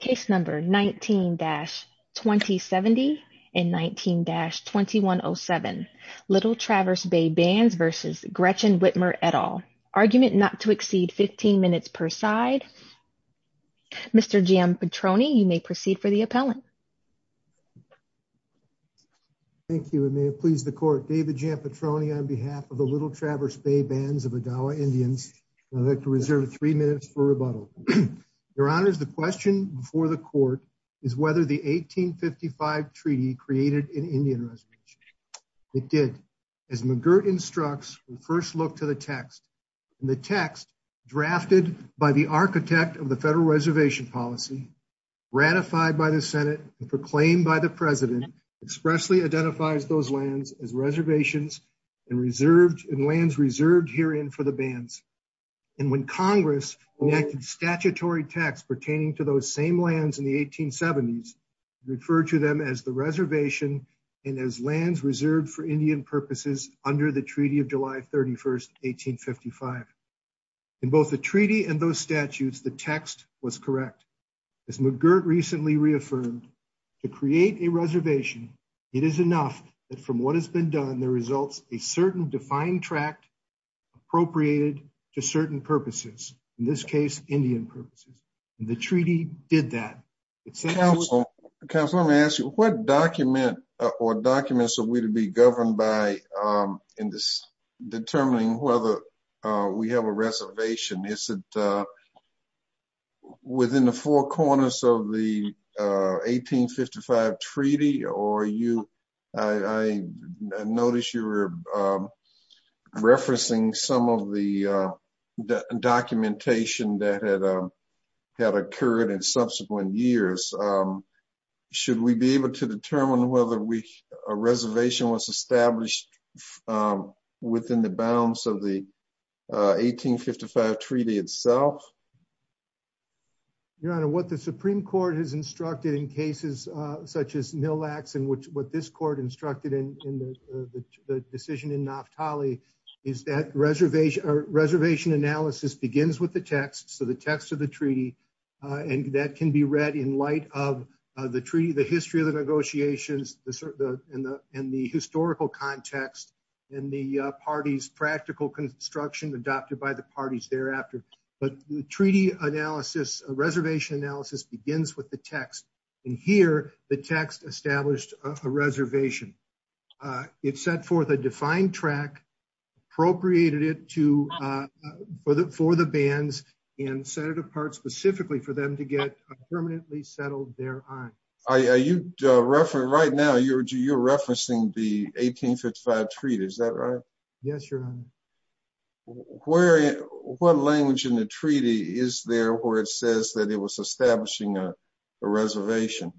Case number 19-2070 and 19-2107. Little Traverse Bay Bands v. Gretchen Whitmer et al. Argument not to exceed 15 minutes per side. Mr. Giampetroni, you may proceed for the appellant. Thank you and may it please the court. David Giampetroni on behalf of the Little Traverse Bay Bands of Odawa Indians. I'd like to reserve three minutes for rebuttal. Your honors, the question before the court is whether the 1855 treaty created an Indian reservation. It did. As McGirt instructs, we first look to the text. In the text, drafted by the architect of the federal reservation policy, ratified by the senate and proclaimed by the president, expressly identifies those lands as reservations and reserved and lands reserved herein for the bands. And when Congress enacted statutory text pertaining to those same lands in the 1870s, referred to them as the reservation and as lands reserved for Indian purposes under the treaty of July 31st, 1855. In both the treaty and those statutes, the text was correct. As McGirt recently reaffirmed, to create a reservation, it is enough that from what has been done, a certain defined tract appropriated to certain purposes. In this case, Indian purposes. And the treaty did that. Counsel, let me ask you, what document or documents are we to be governed by in determining whether we have a reservation? Is it within the four corners of the 1855 treaty or I noticed you were referencing some of the documentation that had occurred in subsequent years. Should we be able to determine whether a reservation was established within the bounds of the 1855 treaty itself? Your Honor, what the Supreme Court has instructed in cases such as Mille Lacs and what this court instructed in the decision in Naftali is that reservation analysis begins with the text. So the text of the treaty, and that can be read in light of the history of the negotiations and the historical context and the party's practical construction adopted by the parties thereafter. But the treaty analysis, reservation analysis begins with the text. And here, the text established a reservation. It set forth a defined tract, appropriated it for the bands and set it apart specifically for them to get permanently settled thereon. Right now, you're referencing the 1855 treaty, is that right? Yes, Your Honor. What language in the treaty is there where it says that it was establishing a reservation?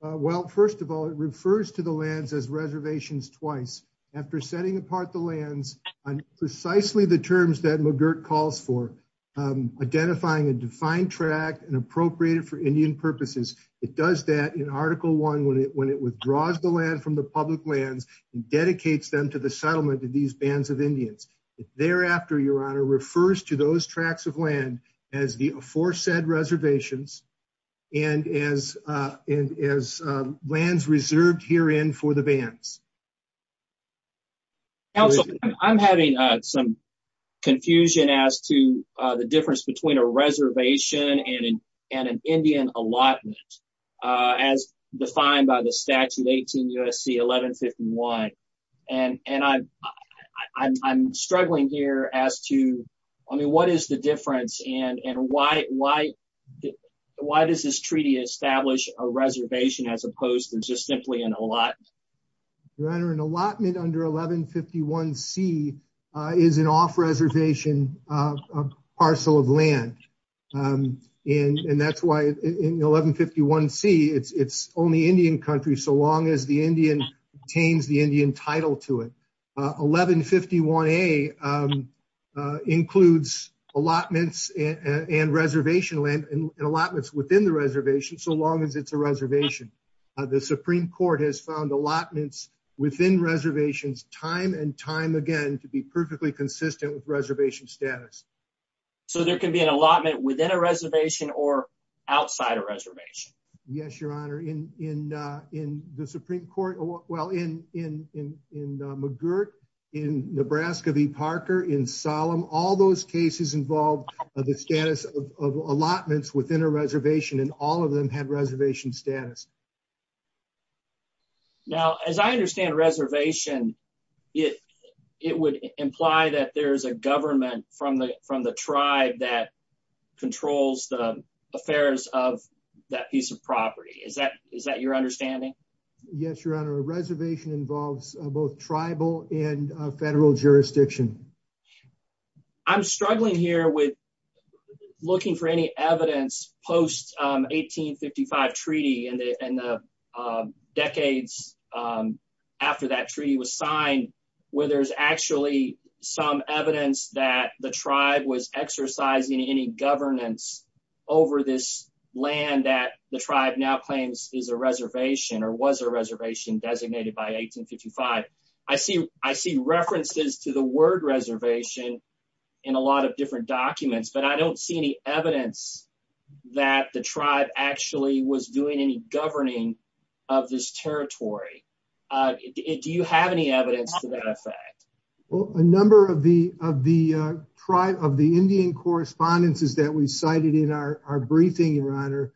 Well, first of all, it refers to the lands as reservations twice. After setting apart the lands on precisely the terms that McGirt calls for, identifying a defined tract and appropriate it for Indian purposes. It does that in article one when it withdraws the land from the public land and dedicates them to the settlement of these bands of Indians. Thereafter, Your Honor, refers to those tracts of land as the aforesaid reservations and as lands reserved herein for the bands. Counselor, I'm having some confusion as to the difference between a 1151 and I'm struggling here as to, I mean, what is the difference and why does this treaty establish a reservation as opposed to just simply an allotment? Your Honor, an allotment under 1151C is an off-reservation of parcel of land. And that's why in 1151C, it's only Indian countries so long as the Indian obtains the Indian title to it. 1151A includes allotments and reservation land and allotments within the reservation so long as it's a reservation. The Supreme Court has found allotments within reservations time and time again to be perfectly consistent with reservation status. So there can be an allotment within a reservation or outside a reservation? Yes, Your Honor. In the Supreme Court, well, in McGirt, in Nebraska v. Parker, in Solemn, all those cases involved the status of allotments within a reservation and all of them had reservation status. Now, as I understand reservation, it would imply that there's a Is that your understanding? Yes, Your Honor. A reservation involves both tribal and federal jurisdiction. I'm struggling here with looking for any evidence post-1855 treaty and the decades after that treaty was signed where there's actually some evidence that the tribe was now claims is a reservation or was a reservation designated by 1855. I see references to the word reservation in a lot of different documents, but I don't see any evidence that the tribe actually was doing any governing of this territory. Do you have any evidence to that effect? Well, a number of the Indian correspondences that we cited in our briefing, Your Honor,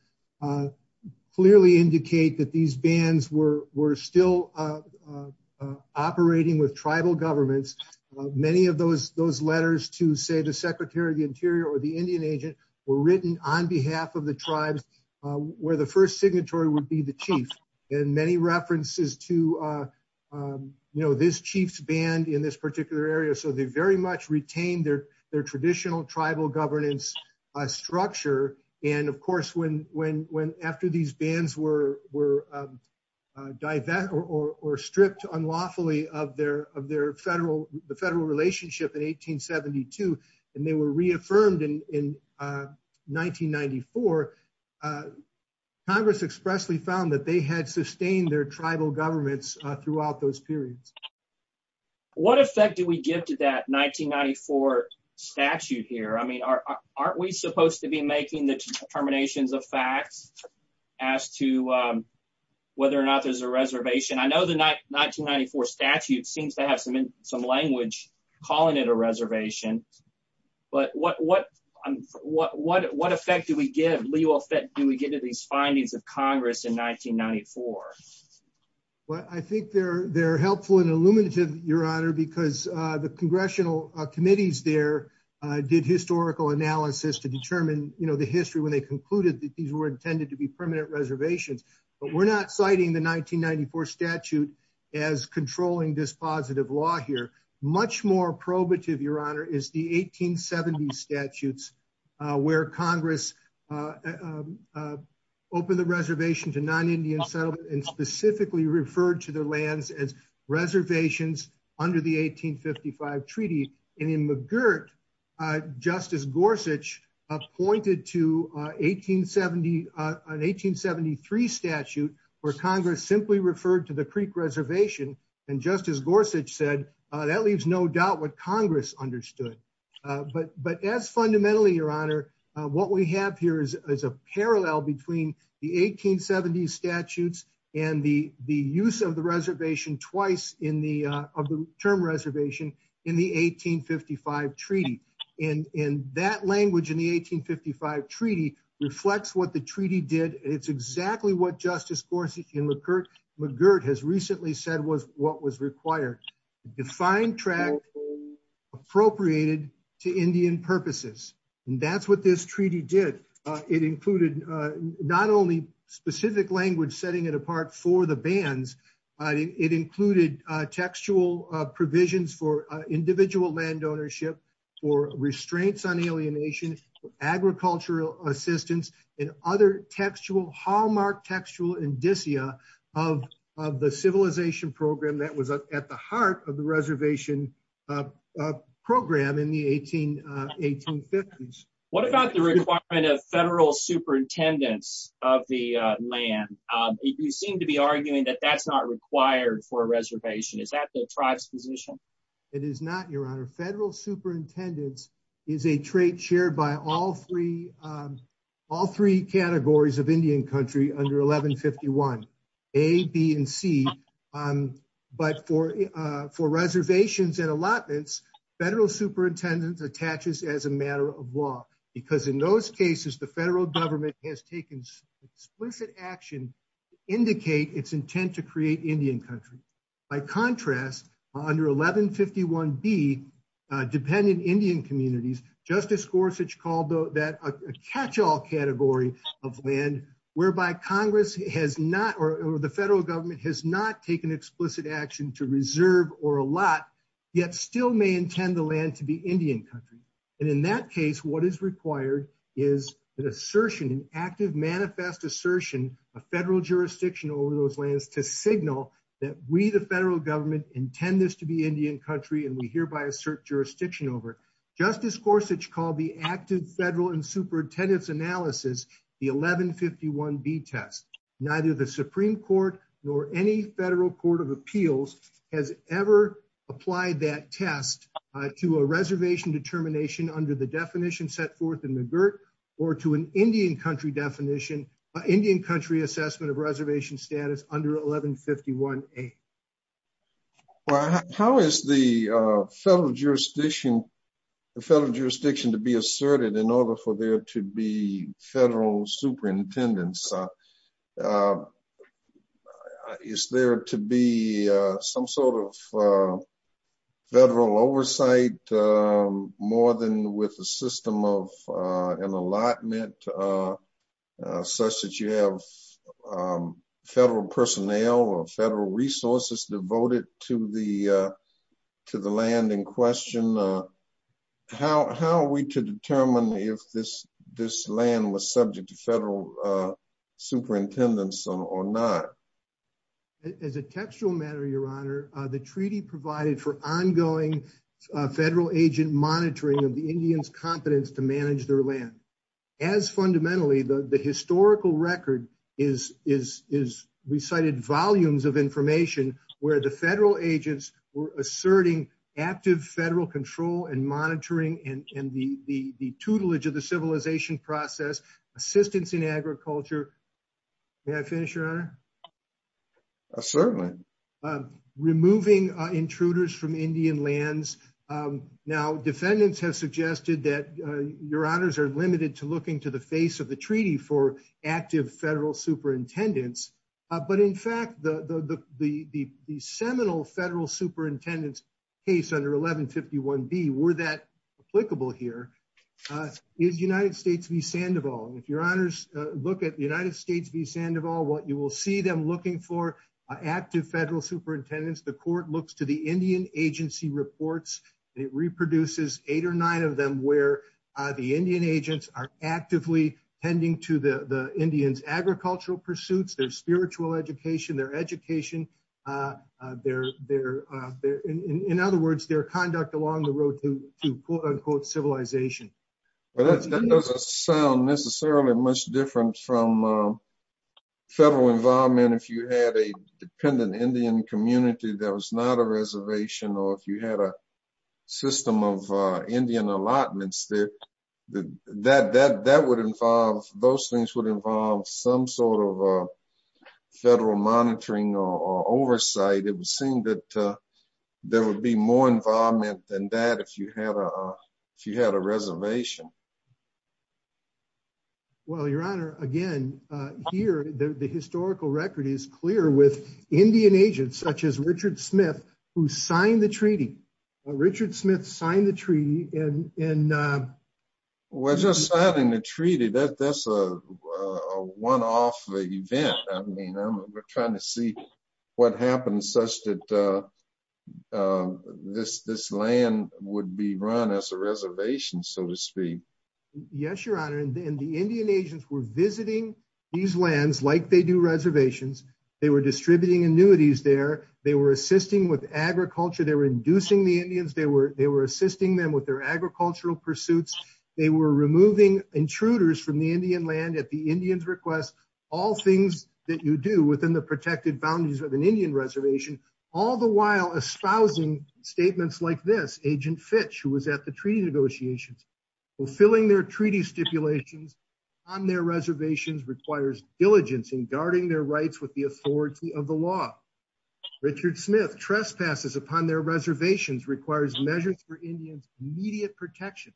clearly indicate that these bands were still operating with tribal governments. Many of those letters to, say, the Secretary of the Interior or the Indian agent were written on behalf of the tribe where the first signatory would be the chief and many references to this chief's band in this particular area. So they very much retained their traditional tribal governance structure and, of course, when after these bands were stripped unlawfully of their federal relationship in 1872 and they were reaffirmed in 1994, Congress expressly found that they had sustained their tribal governments throughout those periods. What effect do we give to that 1994 statute here? I mean, aren't we supposed to be making the determinations of facts as to whether or not there's a reservation? I know the 1994 statute seems to have some language calling it a reservation, but what effect do we give? Do we give to these findings of Congress in 1994? Well, I think they're helpful and illuminative, Your Honor, because the congressional committees there did historical analysis to determine, you know, the history when they concluded that these were intended to be permanent reservations, but we're not citing the 1994 statute as controlling this positive law here. Much more probative, Your Honor, is the 1870 statutes where Congress opened the reservation to non-Indian settlers and specifically referred to the lands as reservations under the 1855 treaty, and in McGirt, Justice Gorsuch pointed to an 1873 statute where Congress simply referred to the Creek Reservation, and Justice Gorsuch said that leaves no doubt what Congress understood. But as fundamentally, Your Honor, what we have here is a parallel between the 1870 statutes and the use of the term reservation in the 1855 treaty, and that language in the 1855 treaty reflects what the treaty did. It's appropriated to Indian purposes, and that's what this treaty did. It included not only specific language setting it apart for the bands, it included textual provisions for individual land ownership, for restraints on alienation, agricultural assistance, and other textual hallmark textual indicia of the civilization program that was at the heart of the reservation program in the 1850s. What about the requirement of federal superintendents of the land? You seem to be arguing that that's not required for a reservation. Is that the tribe's position? It is not, Your Honor. Federal superintendents is a trait shared by all three categories of Indian country under 1151, A, B, and C. But for reservations and allotments, federal superintendents are attached as a matter of law, because in those cases, the federal government has taken explicit action to indicate its intent to create Indian country. By contrast, under 1151B, dependent Indian communities, Justice Gorsuch called that a catch-all category of land, whereby Congress has not, or the federal government has not taken explicit action to reserve or allot, yet still may intend the land to be Indian country. And in that case, what is required is an assertion, an active manifest assertion of federal jurisdiction over those lands to signal that we, the federal government, intend this to be Indian country, and we hereby assert jurisdiction over it. Justice Gorsuch called the active federal and superintendents analysis the 1151B test. Neither the Supreme Court nor any federal court of appeals has ever applied that test to a reservation determination under the definition set forth in the GERT, or to an Indian country definition, Indian country assessment of reservation status under 1151A. How is the federal jurisdiction to be asserted in order for there to be federal superintendents? Is there to be some sort of federal oversight more than with a system of an allotment such that you have federal personnel or federal resources devoted to the land in question? How are we to determine if this land was subject to federal superintendents or not? As a textual matter, Your Honor, the treaty provided for ongoing federal agent monitoring of the Indians' competence to manage their land. As fundamentally, the historical record is recited volumes of information where the federal agents were asserting active federal control and monitoring and the tutelage of the civilization process, assistance in agriculture. May I finish, Your Honor? Certainly. Removing intruders from Indian lands. Now, defendants have suggested that Your Honors are limited to looking to the face of the treaty for active federal superintendents. But in fact, the seminal federal superintendents case under 1151B, were that applicable here, is United States v. Sandoval. And if Your Honors look at United States v. Sandoval, what you will see them looking for, active federal superintendents, the court looks to the Indian agency reports. It reproduces eight or nine of them where the Indian agents are actively tending to the Indians' agricultural pursuits, their spiritual education, their education, in other words, their conduct along the road to quote-unquote civilization. Well, that doesn't sound necessarily much different from federal involvement if you had a dependent Indian community that was not a reservation or if you had a system of Indian allotments. Those things would involve some sort of federal monitoring or oversight. It would seem that there would be more involvement than that if you had a reservation. Well, Your Honor, again, here, the historical record is clear with Indian agents such as Richard Smith who signed the treaty. Richard Smith signed the treaty and... Well, just signing the treaty, that's a one-off event. I mean, we're trying to see what happens such that this land would be run as a reservation, so to speak. Yes, Your Honor, and the Indian agents were visiting these lands like they do reservations. They were distributing annuities there. They were assisting with agriculture. They were inducing the Indians. They were assisting them with their agricultural pursuits. They were removing intruders from the Indian land at the Indian's request. All things that you do within the Indian reservation, all the while espousing statements like this, Agent Fitch, who was at the treaty negotiations. Fulfilling their treaty stipulations on their reservations requires diligence in guarding their rights with the authority of the law. Richard Smith trespasses upon their reservations requires measures for Indian immediate protection.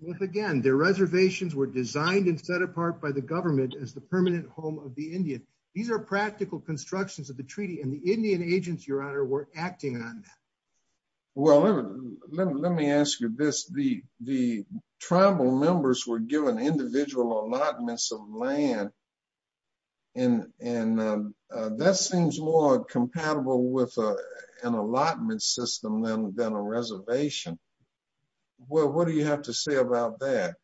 Once again, their reservations were designed and set apart by the government as the permanent home of the Indians. These are practical constructions of the treaty, and the Indian agents, Your Honor, were acting on that. Well, let me ask you this. The tribal members were given individual allotments of land, and that seems more compatible with an allotment system than a reservation. Well, what do you have to say about that?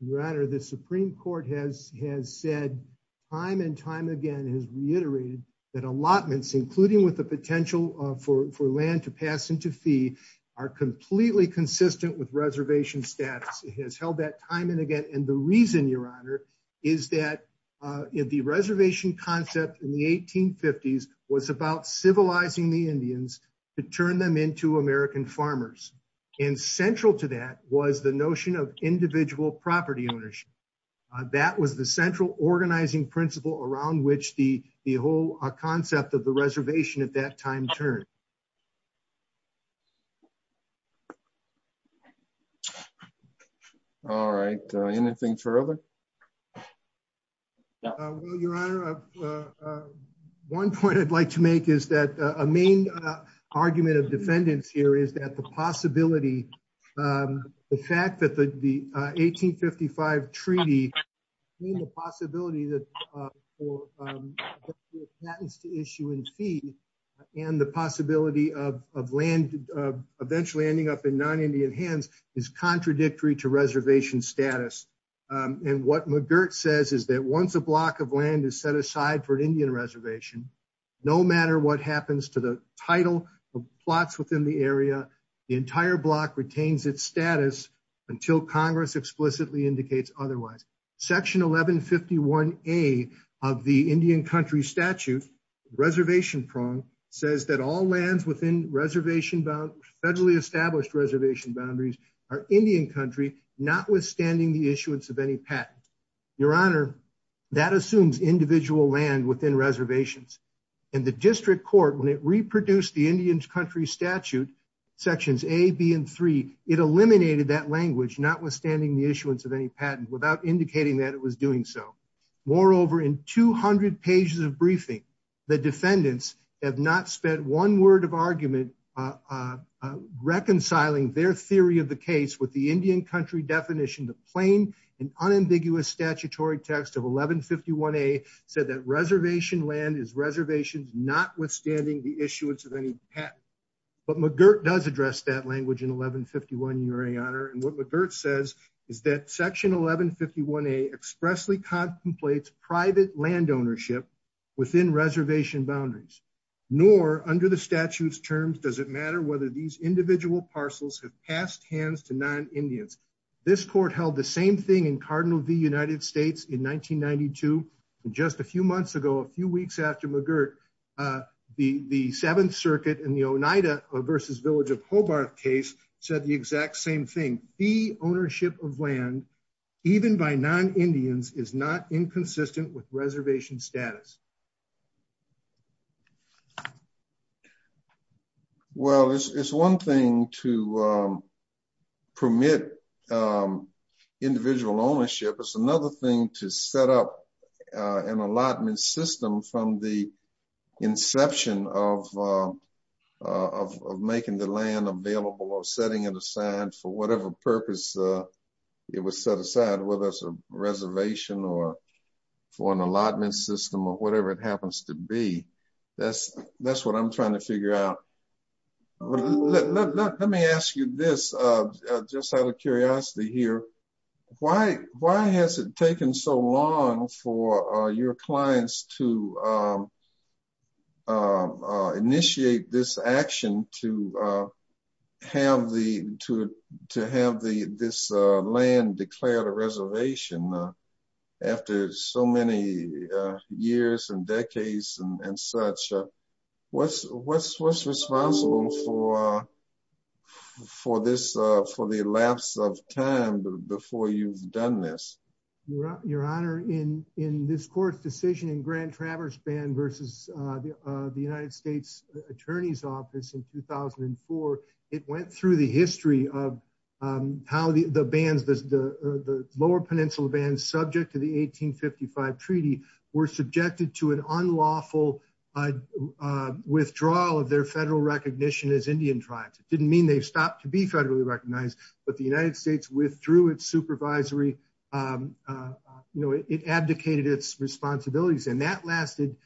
Your Honor, the Supreme Court has said time and time again has reiterated that allotments, including with the potential for land to pass into fee, are completely consistent with reservation status. It has held that time and again, and the reason, Your Honor, is that the reservation concept in the 1850s was about civilizing the Indians to turn them into American farmers, and central to that was the notion of individual property ownership. That was the central organizing principle around which the whole concept of the reservation at that time turned. All right. Anything further? Well, Your Honor, one point I'd like to make is that a main argument of defendants here is that the possibility, the fact that the 1855 treaty, the possibility for patents to issue in fee, and the possibility of land eventually ending up in non-Indian hands is contradictory to reservation status, and what McGirt says is that once a block of land is set aside for an Indian reservation, no matter what happens to the title of plots within the area, the entire block retains its status until Congress explicitly indicates otherwise. Section 1151A of the Indian country statute, reservation prong, says that all lands within reservation, federally established reservation boundaries, are Indian country, notwithstanding the issuance of any patent. Your Honor, that assumes individual land within reservations, and the district court, when it reproduced the Indian country statute, sections A, B, and 3, it eliminated that language, notwithstanding the issuance of any patent, without indicating that it was doing so. Moreover, in 200 pages of briefing, the defendants have not spent one word of argument reconciling their theory of the case with the Indian country definition. The plain and unambiguous statutory text of 1151A said that reservation land is reservations, notwithstanding the issuance of any patent, but McGirt does address that language in 1151, Your Honor, and what McGirt says is that section 1151A expressly contemplates private land ownership within reservation boundaries. Nor, under the statute's terms, does it matter whether these individual parcels have passed hands to non-Indians. This court held the same thing in Cardinal v. United States in 1992, and just a few months ago, a few weeks after McGirt, the Seventh Circuit in the Oneida v. Village of Hobart case said the exact same thing. The Justices of the District of Columbia혹j notence that statutesключines of the 12th Circuitofthe oneida v. Each molta a rush. If the protehes that it had be placed so they could not be reconstituted for his property, except for that occasion. Judge Lowery judged that, in certain circumstances, or whatever it happens to be. That's what I'm trying to figure out. Let me ask you this, just out of curiosity here. Why has it taken so long for your clients to initiate this action to have this land declared a reservation after so many years and decades and such? What's responsible for the lapse of time before you've done this? Your Honor, in this court's decision in Grand Traverse Band versus the United States Attorney's Office in 2004, it went through the history of how the lower peninsula bands subject to the 1855 Treaty were subjected to an unlawful withdrawal of their federal recognition as Indian tribes. It didn't mean they stopped to be federally recognized, but the United States withdrew its supervisory. It abdicated its responsibilities, and that lasted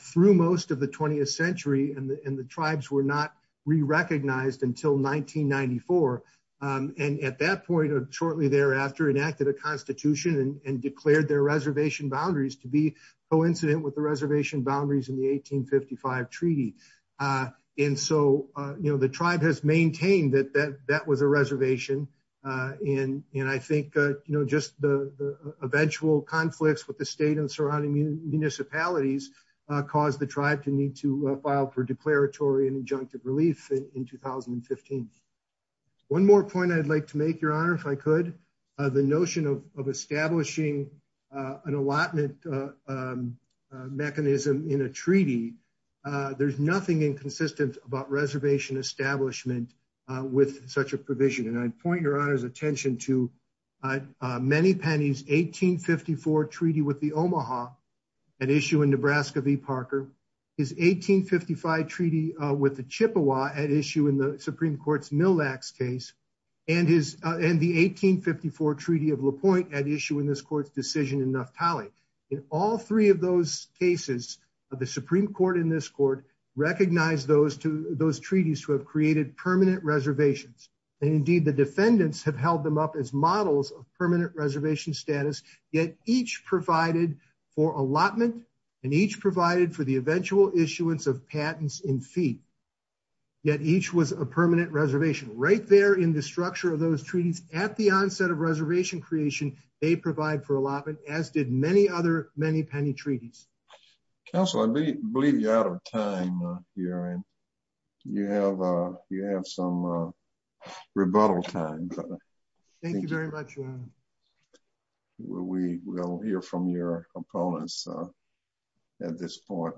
through most of the 20th century, and the tribes were not re-recognized until 1994. At that point, or shortly thereafter, enacted a constitution and declared their reservation boundaries to be coincident with the reservation boundaries in the 1855 Treaty. The tribe has maintained that that was a reservation. I think just the eventual conflicts with the state and surrounding municipalities caused the tribe to need to file for declaratory and injunctive relief in 2015. One more point I'd like to make, Your Honor, if I could, the notion of establishing an allotment mechanism in a treaty. There's nothing inconsistent about reservation establishment with such a provision, and I'd point Your Honor's attention to Manny Penny's 1854 Treaty with the Omaha, an issue in Nebraska v. Parker, his 1855 Treaty with the Chippewa, an issue in the Supreme Court's Millax case, and the 1854 Treaty of LaPointe, an issue in this court's decision in Naftali. In all three of those cases, the Supreme Court in this court recognized those treaties who have created permanent reservations, and indeed the defendants have held them up as models of permanent reservation status, yet each provided for allotment and each provided for the eventual issuance of patents in fee, yet each was a permanent reservation. Right there in the structure of those treaties, at the onset of reservation creation, they provide for allotment, as did many other Manny Penny treaties. Counselor, I believe you're out of time here and you have some rebuttal time. Thank you very much. We'll hear from your opponents at this point.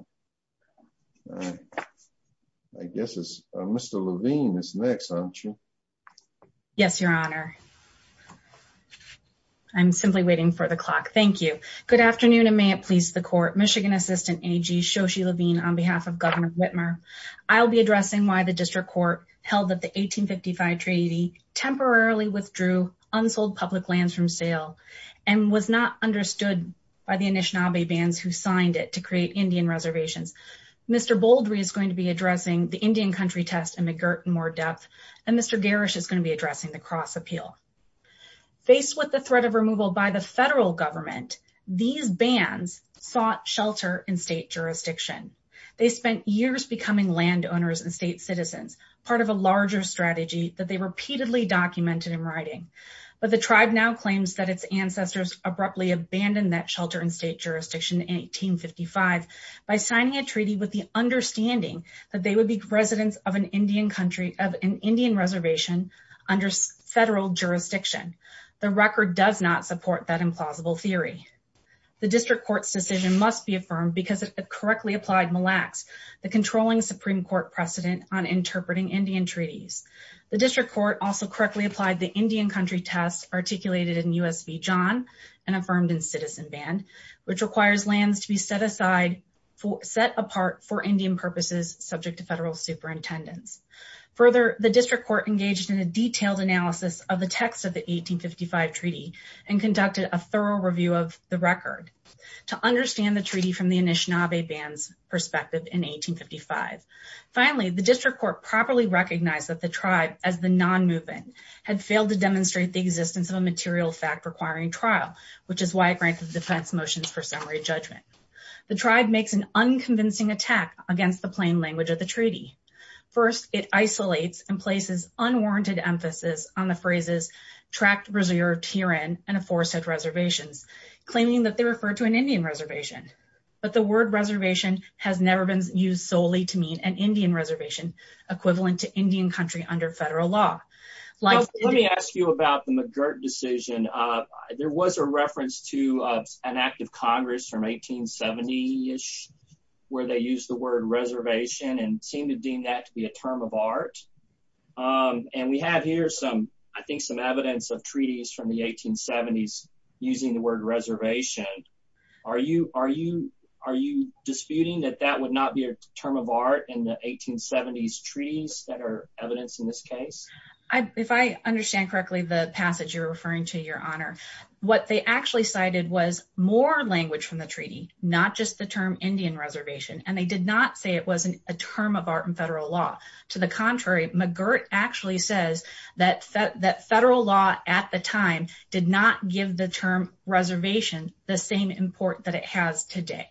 I guess Mr. Levine is next, aren't you? Yes, Your Honor. I'm simply waiting for the clock. Thank you. Good afternoon, and may it please the Court. Michigan Assistant A.G. Shoshi Levine on behalf of Governor Whitmer. I'll be addressing why the District Court held that the 1855 Treaty temporarily withdrew unsold public lands from sale and was not understood by the Anishinaabe Bands who signed it to create Indian reservations. Mr. Boldry is going to be addressing the Indian Country Test in more depth, and Mr. Garish is going to be addressing the Cross Appeal. Faced with the threat of removal by the federal government, these Bands sought shelter in state citizens, part of a larger strategy that they repeatedly documented in writing. But the tribe now claims that its ancestors abruptly abandoned that shelter in state jurisdiction in 1855 by signing a treaty with the understanding that they would be residents of an Indian country, of an Indian reservation, under federal jurisdiction. The record does not support that implausible theory. The District Court's decision must be affirmed because of the correctly applied Mille Lacs, the controlling Supreme Court precedent on interpreting Indian treaties. The District Court also correctly applied the Indian Country Test articulated in U.S.B. John, and affirmed in Citizen Band, which requires lands to be set aside, set apart for Indian purposes subject to federal superintendence. Further, the District Court engaged in a detailed analysis of the text of the 1855 Treaty and conducted a thorough review of the record. To understand the perspective in 1855. Finally, the District Court properly recognized that the tribe, as the non-movement, had failed to demonstrate the existence of a material fact requiring trial, which is why it granted defense motions for summary judgment. The tribe makes an unconvincing attack against the plain language of the treaty. First, it isolates and places unwarranted emphasis on the phrases, tracked reserve of Tiran, and a forested reservation, claiming that they refer to an Indian reservation. But the word reservation has never been used solely to mean an Indian reservation, equivalent to Indian country under federal law. Let me ask you about the McGirt decision. There was a reference to an act of Congress from 1870-ish, where they used the word reservation, and seemed to deem that to be a term of art. And we have here some, I think, some evidence of treaties from the 1870s using the word reservation. Are you disputing that that would not be a term of art in the 1870s treaties that are evidence in this case? If I understand correctly the passage you're referring to, Your Honor, what they actually cited was more language from the treaty, not just the term Indian reservation. And they did not say it wasn't a term of art in federal law. To the contrary, McGirt actually says that federal law at the time did not give the term reservation the same import that it has today.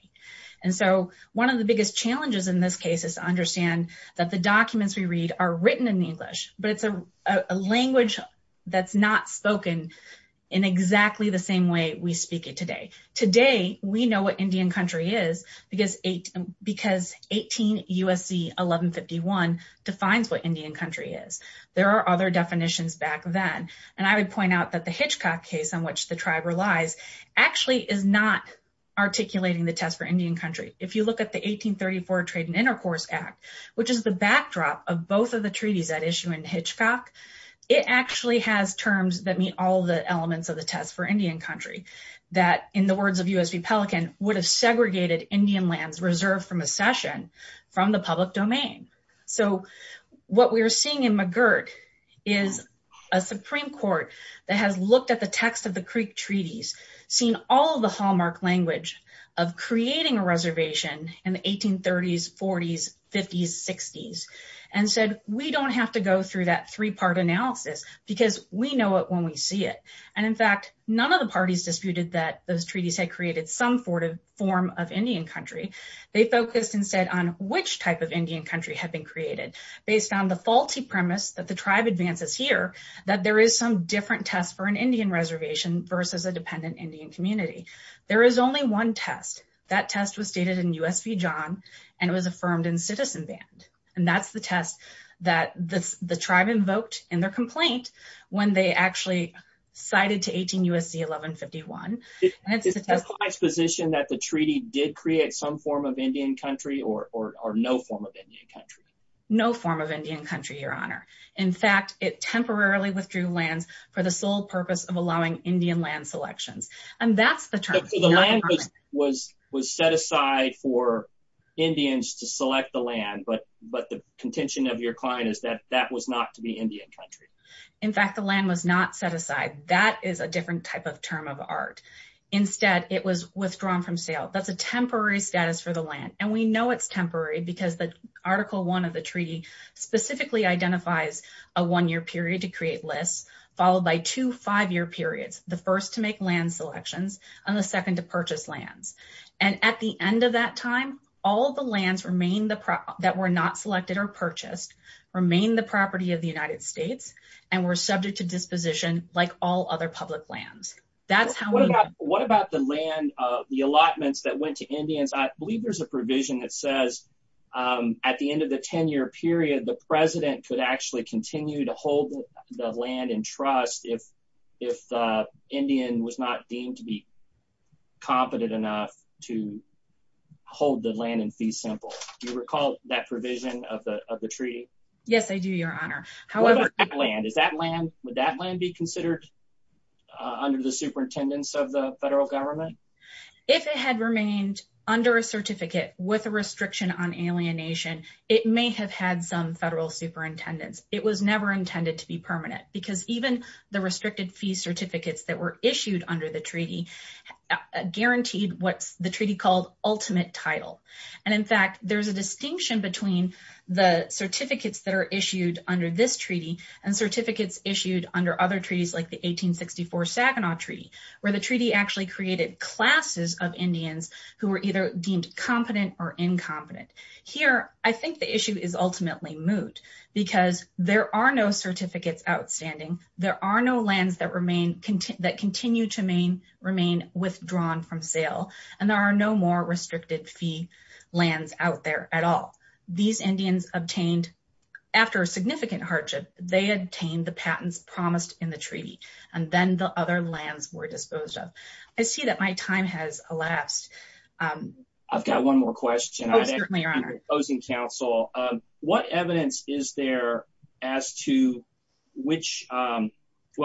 And so one of the biggest challenges in this case is to understand that the documents we read are written in English, but it's a language that's not spoken in exactly the same way we speak it today. Today, we know what USC 1151 defines what Indian country is. There are other definitions back then. And I would point out that the Hitchcock case on which the tribe relies actually is not articulating the test for Indian country. If you look at the 1834 Trade and Intercourse Act, which is the backdrop of both of the treaties that issue in Hitchcock, it actually has terms that meet all the elements of the test for Indian country. That in the words of USB Pelican, would have segregated Indian lands reserved from accession from the public domain. So what we're seeing in McGirt is a Supreme Court that has looked at the text of the Creek treaties, seen all the hallmark language of creating a reservation in the 1830s, 40s, 50s, 60s, and said, we don't have to go through that three-part analysis because we know it when we see it. And in fact, none of the parties disputed that those treaties had created some form of Indian country. They focused instead on which type of Indian country had been created. They found the faulty premise that the tribe advances here, that there is some different tests for an Indian reservation versus a dependent Indian community. There is only one test. That test was stated in USB John, and it was affirmed in Citizen Band. And that's the test that the tribe invoked in their complaint when they actually cited to 18 U.S.C. 1151. It's my position that the treaty did create some form of Indian country or no form of Indian country. No form of Indian country, your honor. In fact, it temporarily withdrew land for the sole purpose of allowing Indian land selection. And that's the term. The land was set aside for your client is that that was not to be Indian country. In fact, the land was not set aside. That is a different type of term of art. Instead, it was withdrawn from sale. That's a temporary status for the land. And we know it's temporary because the Article I of the treaty specifically identifies a one-year period to create lists, followed by two five-year periods, the first to make land selections and the second to purchase land. And at the end of that time, all the lands that were not selected or purchased remain the property of the United States and were subject to disposition like all other public lands. What about the land, the allotments that went to Indians? I believe there's a provision that says at the end of the 10-year period, the president could actually continue to hold the land in trust if the Indian was not deemed to be simple. Do you recall that provision of the treaty? Yes, I do, Your Honor. What about land? Would that land be considered under the superintendence of the federal government? If it had remained under a certificate with a restriction on alienation, it may have had some federal superintendence. It was never intended to be permanent because even the restricted fee certificates that were issued under the treaty guaranteed what the treaty called ultimate title. And in fact, there's a distinction between the certificates that are issued under this treaty and certificates issued under other treaties like the 1864 Savanaugh Treaty, where the treaty actually created classes of Indians who were either deemed competent or incompetent. Here, I think the issue is ultimately moot because there are no certificates outstanding, there are no lands that continue to remain withdrawn from sale, and there are no more restricted fee lands out there at all. These Indians obtained, after significant hardship, they obtained the patents promised in the treaty, and then the other lands were disposed of. I see that my time has elapsed. I've got one more question. Oh, certainly, Your Honor. What evidence is there as to which, well,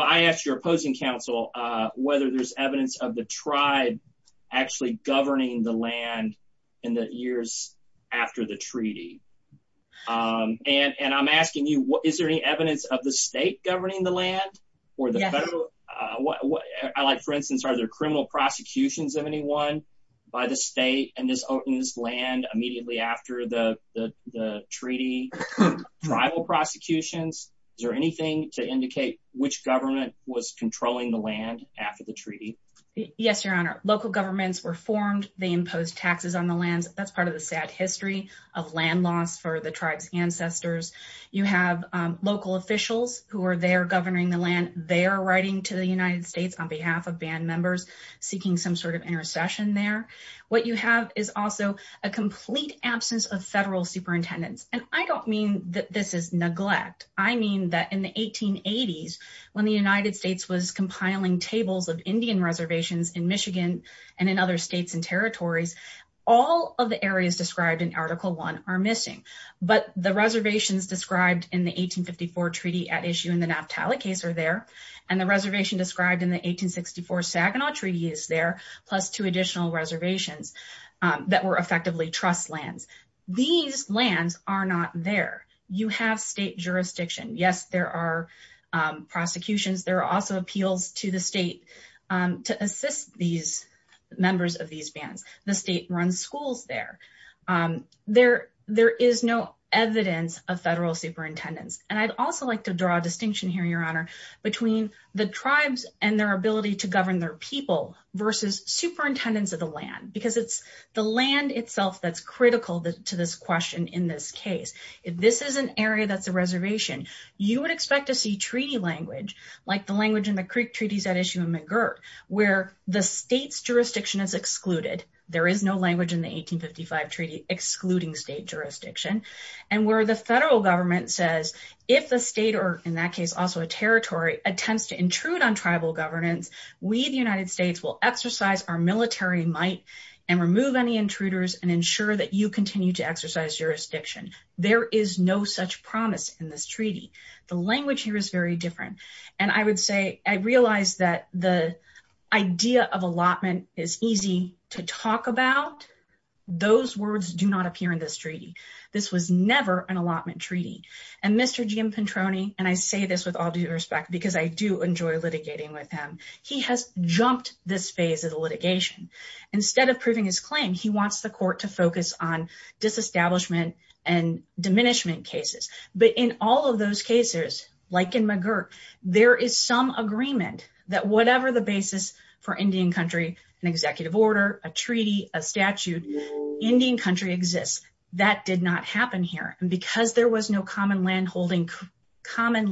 I ask your opposing counsel, whether there's evidence of the tribe actually governing the land in the years after the treaty. And I'm asking you, is there any evidence of the state governing the land? For instance, are there criminal prosecutions of anyone by the state in this land immediately after the treaty, tribal prosecutions? Is there anything to indicate which government was controlling the land after the treaty? Yes, Your Honor. Local governments were formed. They imposed taxes on the land. That's part of the sad history of land loss for the tribe's ancestors. You have local officials who are there governing the land, they're writing to the United States on behalf of band members seeking some sort of intercession there. What you have is also a complete absence of federal superintendents. And I don't mean that this is neglect. I mean that in the 1880s, when the United States was compiling tables of Indian reservations in Michigan, and in other states and territories, all of the areas described in Article One are missing. But the reservations described in the 1854 Treaty at Issue in the Naphtali case are there. And the reservation described in the 1864 Saginaw Treaty is there, plus two additional reservations that were effectively trust lands. These lands are not there. You have state jurisdiction. Yes, there are prosecutions. There are also appeals to the state to assist these members of these bands. The state runs schools there. There is no evidence of federal superintendents. And I'd also like to draw a distinction here, Your Honor, between the tribes and their ability to govern their people versus superintendents of the land, because it's the land itself that's critical to this question in this case. If this is an area that's a reservation, you would expect to see treaty language, like the language in the Creek Treaties at Issue in McGirt, where the state's jurisdiction is excluded. There is no language in the 1855 Treaty excluding the state jurisdiction. And where the federal government says, if the state, or in that case also a territory, attempts to intrude on tribal governance, we, the United States, will exercise our military might and remove any intruders and ensure that you continue to exercise jurisdiction. There is no such promise in this treaty. The language here is very different. And I would say, I realize that the idea of allotment is easy to talk about. Those words do not appear in this treaty. This was never an allotment treaty. And Mr. Jim Petroni, and I say this with all due respect, because I do enjoy litigating with him, he has jumped this phase of the litigation. Instead of proving his claim, he wants the court to focus on disestablishment and diminishment cases. But in all of those cases, like in McGirt, there is some agreement that whatever the basis for Indian country, an executive order, a treaty, a statute, Indian country exists. That did not happen here. And because there was no common land holding created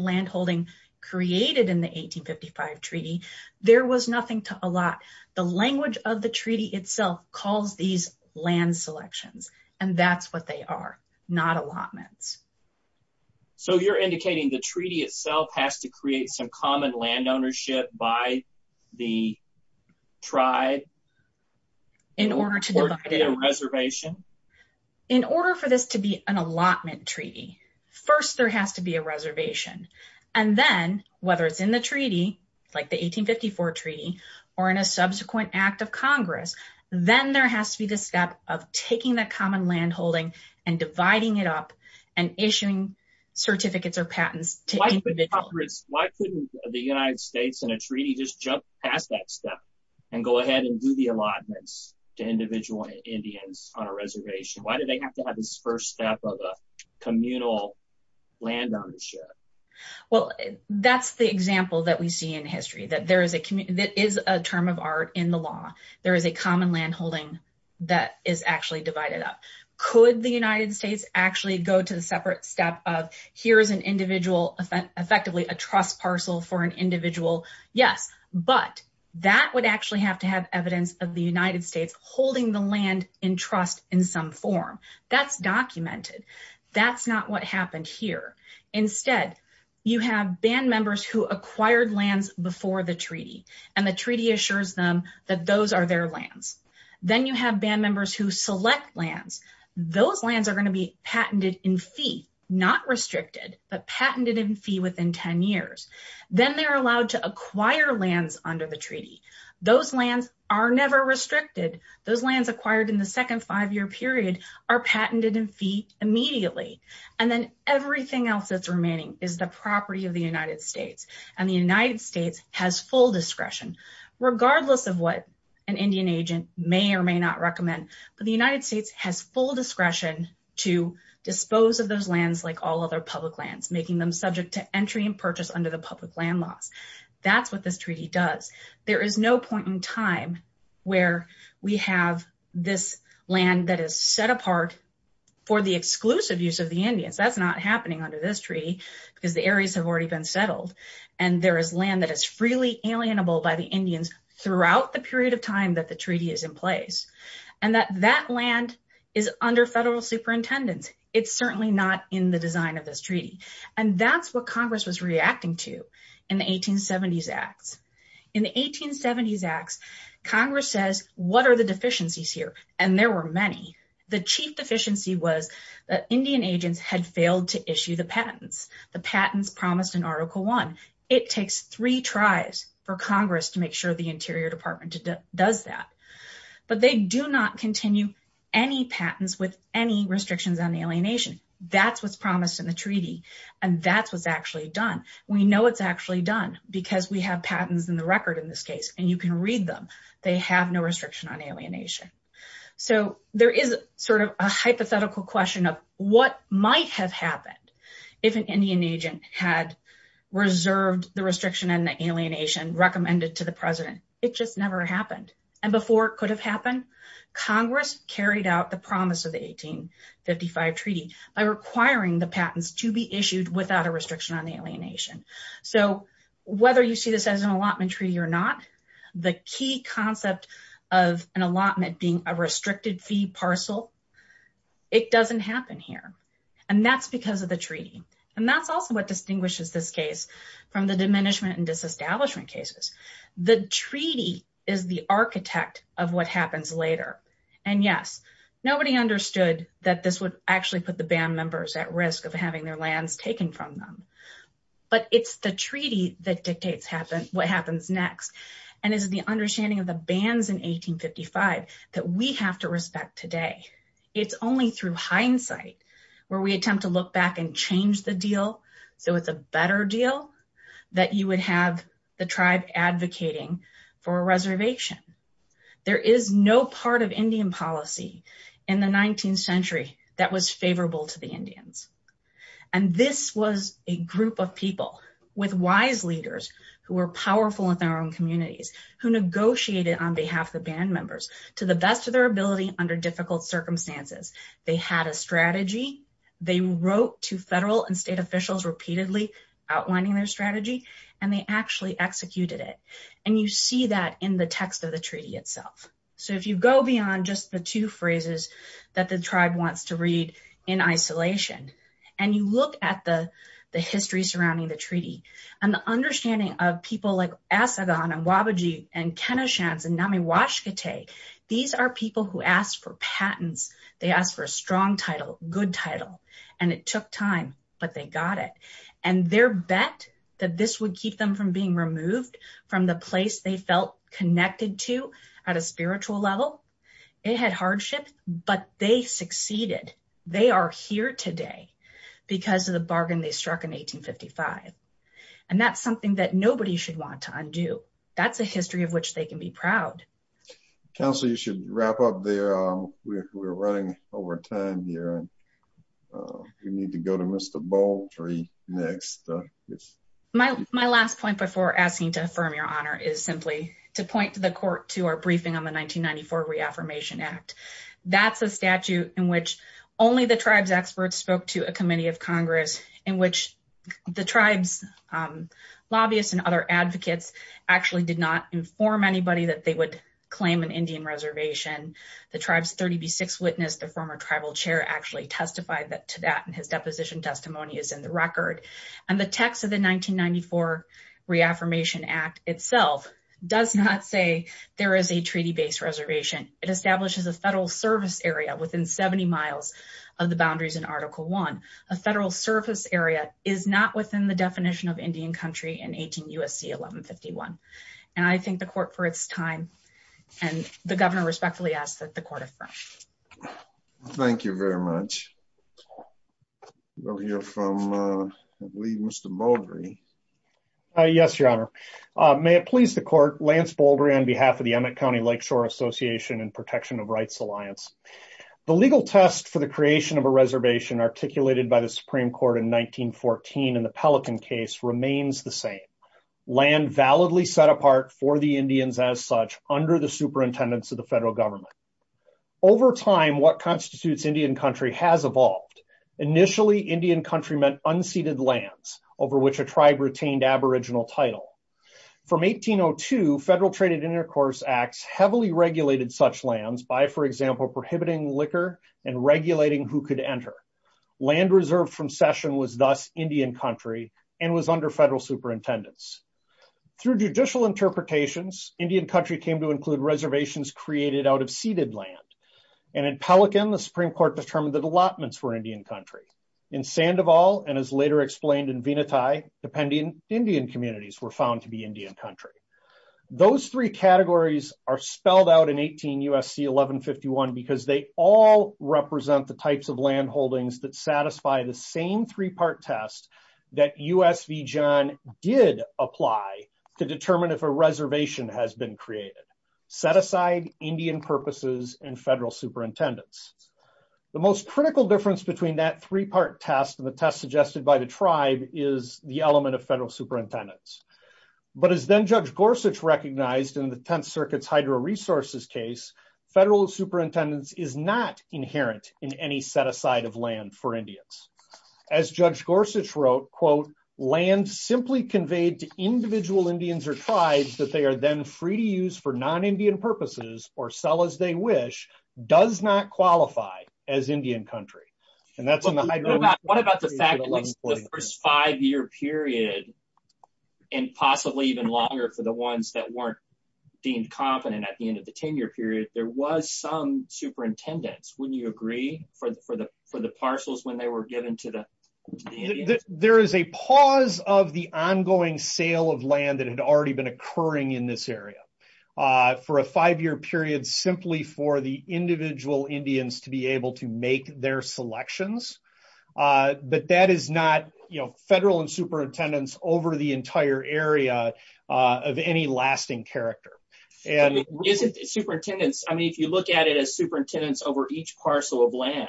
in the 1855 treaty, there was nothing to allot. The language of the treaty itself calls these land selections. And that's what they are, not allotments. So you're indicating the treaty itself has to create some common land ownership by the tribe in order to create a reservation? In order for this to be an allotment treaty, first there has to be a reservation. And then, whether it's in the treaty, like the 1854 treaty, or in a subsequent act of Congress, then there has to be the step of taking that common land holding and dividing it up and issuing certificates or patents. Why couldn't the United States in a treaty just jump past that step and go ahead and do the allotments to individual Indians on a reservation? Why do they have to have this first step of a communal land ownership? Well, that's the example that we see in history, that there is a term of art in the law. There is a common land holding that is actually divided up. Could the United States actually go to the separate step of here is an individual, effectively a trust parcel for an individual? Yes, but that would actually have to have evidence of the United States holding the land in trust in some form. That's documented. That's not what happened here. Instead, you have band members who acquired lands before the treaty, and the treaty assures them that those are their lands. Then you have band members who select lands. Those lands are going to be patented in fee, not restricted, but patented in fee within 10 years. Then they're allowed to acquire lands under the treaty. Those lands are never restricted. Those lands acquired in the second five-year period are patented in fee immediately. And then everything else that's remaining is the property of the United States, and the United States has full discretion. Regardless of what an Indian agent may or may not recommend, the United States has full discretion to dispose of those lands like all other public lands, making them subject to entry and purchase under the public land law. That's what this treaty does. There is no point in time where we have this land that is set apart for the exclusive use of the Indians. That's not happening under this treaty because the areas have already been settled, and there is land that is designable by the Indians throughout the period of time that the treaty is in place, and that that land is under federal superintendent. It's certainly not in the design of this treaty, and that's what Congress was reacting to in the 1870s Act. In the 1870s Act, Congress says, what are the deficiencies here? And there were many. The chief deficiency was that Indian agents had failed to issue the to make sure the Interior Department does that. But they do not continue any patents with any restrictions on alienation. That's what's promised in the treaty, and that's what's actually done. We know it's actually done because we have patents in the record in this case, and you can read them. They have no restriction on alienation. So there is sort of a hypothetical question of what might have happened if an Indian agent had reserved the restriction on alienation, recommended to the president. It just never happened. And before it could have happened, Congress carried out the promise of the 1855 treaty by requiring the patents to be issued without a restriction on alienation. So whether you see this as an allotment treaty or not, the key concept of an allotment being a because of the treaty. And that's also what distinguishes this case from the diminishment and disestablishment cases. The treaty is the architect of what happens later. And yes, nobody understood that this would actually put the band members at risk of having their lands taken from them. But it's the treaty that dictates what happens next. And it is the understanding of the bans in 1855 that we have to respect today. It's only through hindsight where we attempt to look back and change the deal so it's a better deal that you would have the tribe advocating for a reservation. There is no part of Indian policy in the 19th century that was favorable to the Indians. And this was a group of people with wise leaders who were powerful in their own communities, who negotiated on behalf of band members to the best of their They wrote to federal and state officials repeatedly outlining their strategy, and they actually executed it. And you see that in the text of the treaty itself. So if you go beyond just the two phrases that the tribe wants to read in isolation, and you look at the history surrounding the treaty, and the understanding of people like Asadan, and Wabaji, and Kenoshans, and Namiwashkete, these are people who asked for And it took time, but they got it. And their bet that this would keep them from being removed from the place they felt connected to at a spiritual level, they had hardship, but they succeeded. They are here today because of the bargain they struck in 1855. And that's something that nobody should want to undo. That's a history of which they can be proud. Counsel, you should wrap up there. We're running over time here. We need to go to Mr. Baltry next. My last point before asking to affirm your honor is simply to point the court to our briefing on the 1994 Reaffirmation Act. That's a statute in which only the tribe's experts spoke to a committee of Congress in which the tribe's lobbyists and other advocates actually did not inform anybody that they would claim an Indian reservation. The tribe's 36th witness, the former tribal chair, actually testified to that, and his deposition testimony is in the record. And the text of the 1994 Reaffirmation Act itself does not say there is a treaty-based reservation. It establishes a federal service area within 70 miles of the boundaries in Article I. A federal service area is not within the definition of Indian country in 18 U.S.C. 1151. And I thank the court for its time, and the governor respectfully asks that the court affirm. Thank you very much. We'll hear from, I believe, Mr. Baldry. Yes, your honor. May it please the court, Lance Baldry on behalf of the Emmett County Lakeshore Association and Protection of Rights Alliance. The legal test for the creation of a reservation articulated by the Supreme Court in 1914 in the Pelican case remains the same. Land validly set apart for the Indians as such under the superintendence of the federal government. Over time, what constitutes Indian country has evolved. Initially, Indian country meant unceded lands over which a tribe retained aboriginal title. From 1802, federal traded intercourse acts heavily regulated such lands by, for example, prohibiting liquor and regulating who could enter. Land reserved from session was thus Indian country and was under federal superintendence. Through judicial interpretations, Indian country came to include reservations created out of ceded land. And in Pelican, the Supreme Court determined that allotments were Indian country. In Sandoval, and as later explained in Venati, dependent Indian communities were found to be Indian country. Those three categories are spelled out in 18 U.S.C. 1151 because they all represent the types of land holdings that satisfy the same three-part test that U.S. v. John did apply to determine if a reservation has been created. Set aside Indian purposes and federal superintendence. The most critical difference between that three-part test and the test suggested by the tribe is the element of federal superintendence. But as then Judge Gorsuch recognized in the Tenth Circuit's hydro resources case, federal superintendence is not inherent in any set aside of land for Indians. As Judge Gorsuch wrote, quote, land simply conveyed to individual Indians or tribes that they are then free to use for non-Indian purposes or sell as they wish does not qualify as Indian country. And that's what I'm talking about. What about the five-year period and possibly even longer for the ones that weren't deemed competent at the end of the 10-year period? There was some superintendence, wouldn't you agree, for the parcels when they were given to the Indians? There is a pause of the ongoing sale of land that had already been occurring in this area for a five-year period simply for the individual Indians to be able to make their selections. But that is not federal superintendence over the entire area of any lasting character. If you look at it as superintendence over each parcel of land,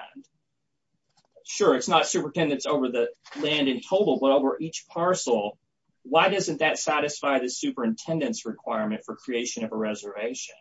sure, it's not superintendence over the land in total, but over each parcel, why doesn't that satisfy the superintendence requirement for creation of a reservation?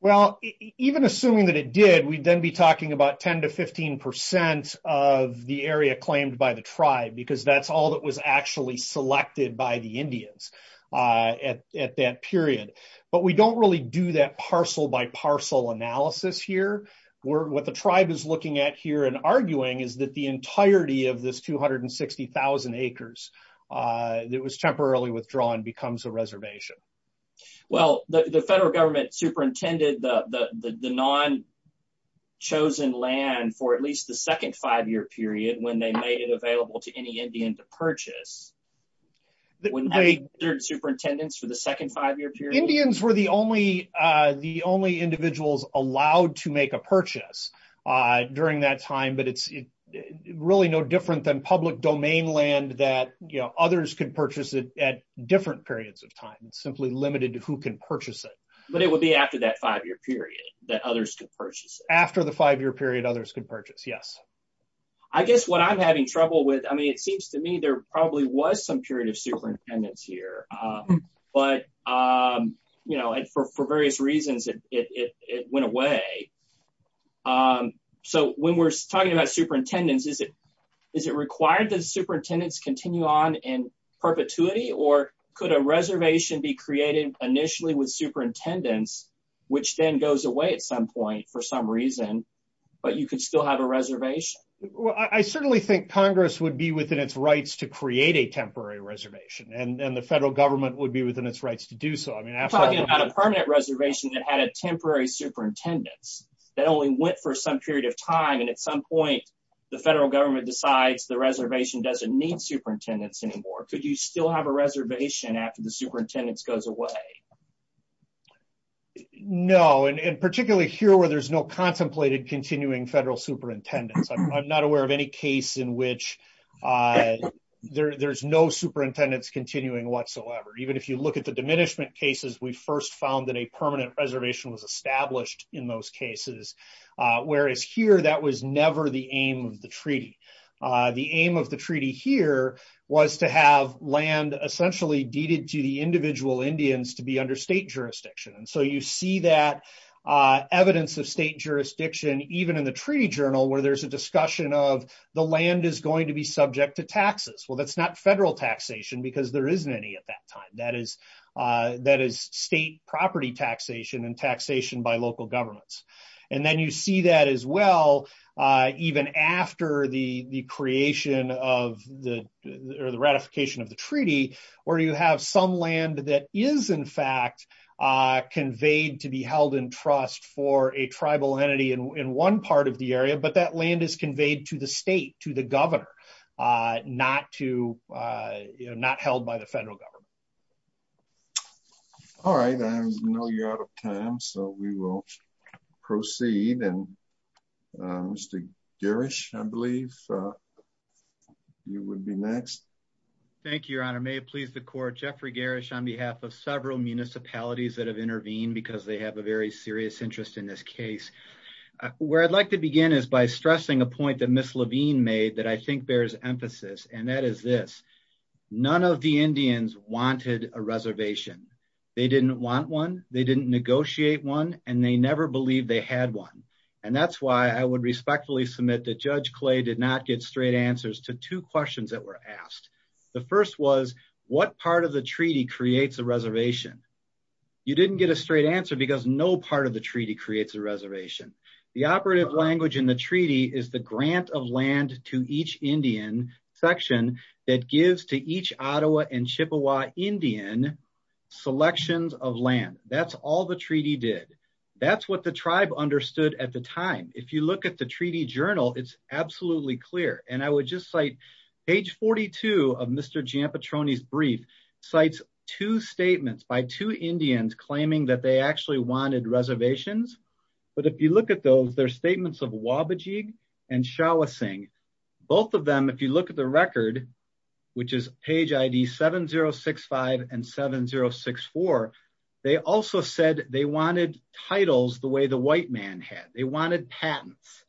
Well, even assuming that it did, we'd then be talking about 10 to 15 percent of the area claimed by the tribe because that's all that was actually selected by the Indians at that period. But we don't really do that parcel-by-parcel analysis here. What the tribe is looking at here and arguing is that the entirety of this 260,000 acres that was temporarily withdrawn becomes a reservation. Well, the federal government superintended the non-chosen land for at least the second five-year period when they made it available to any Indians to purchase. Wouldn't that be superintendence for the second five-year period? Indians were the only individuals allowed to make a purchase during that time, but it's really no different than public domain land that others can purchase at different periods of time. It's simply limited to who can purchase it. But it would be after that five-year period that others could purchase? After the five-year period, others could purchase, yes. I guess what I'm having trouble with, I mean, it seems to me there probably was some period of superintendence here, but for various reasons it went away. So when we're talking about superintendence, is it required that superintendents continue on in perpetuity or could a reservation be created initially with superintendents, which then goes away at some point for some reason, but you could still have a reservation? Well, I certainly think Congress would be within its rights to create a temporary reservation, and the federal government would be within its rights to do so. I mean, I'm talking about a permanent reservation that had a temporary superintendence that only went for some period of time, and at some point the federal government decides the reservation doesn't need superintendents anymore. Could you still have a reservation after the superintendents goes away? No, and particularly here where there's no contemplated continuing federal superintendents. I'm not aware of any case in which there's no superintendents continuing whatsoever. Even if you look at the diminishment cases, we first found that a permanent reservation was established in those cases, whereas here that was never the aim of the treaty. The aim of the treaty here was to have land essentially deeded to the individual Indians to be under state jurisdiction, and so you see that evidence of state jurisdiction even in the treaty journal where there's a discussion of the land is going to be subject to taxes. Well, that's not federal taxation because there isn't any at that time. That is state property taxation and taxation by local governments, and then you see that as well even after the creation of the ratification of the treaty where you have some land that is in fact conveyed to be held in trust for a tribal entity in one part of the area, but that land is conveyed to the state, to the governor, not held by the federal government. All right. I know you're out of time, so we will proceed, and Mr. Garish, I believe, you would be next. Thank you, Your Honor. May it please the Court, Jeffrey Garish on behalf of several municipalities that have intervened because they have a very serious interest in this case. Where I'd like to begin is by stressing a point that I think bears emphasis, and that is this. None of the Indians wanted a reservation. They didn't want one. They didn't negotiate one, and they never believed they had one, and that's why I would respectfully submit that Judge Clay did not get straight answers to two questions that were asked. The first was, what part of the treaty creates a reservation? You didn't get a straight answer because no part of the treaty creates a reservation. The operative language in the treaty is the grant of land to each Indian section that gives to each Ottawa and Chippewa Indian selections of land. That's all the treaty did. That's what the tribe understood at the time. If you look at the treaty journal, it's absolutely clear, and I would just cite page 42 of Mr. Giampetroni's brief, cites two statements by two Indians claiming that they wanted reservations, but if you look at those, they're statements of Wabajig and Shawasing. Both of them, if you look at the record, which is page ID 7065 and 7064, they also said they wanted titles the way the white man had. They wanted patents.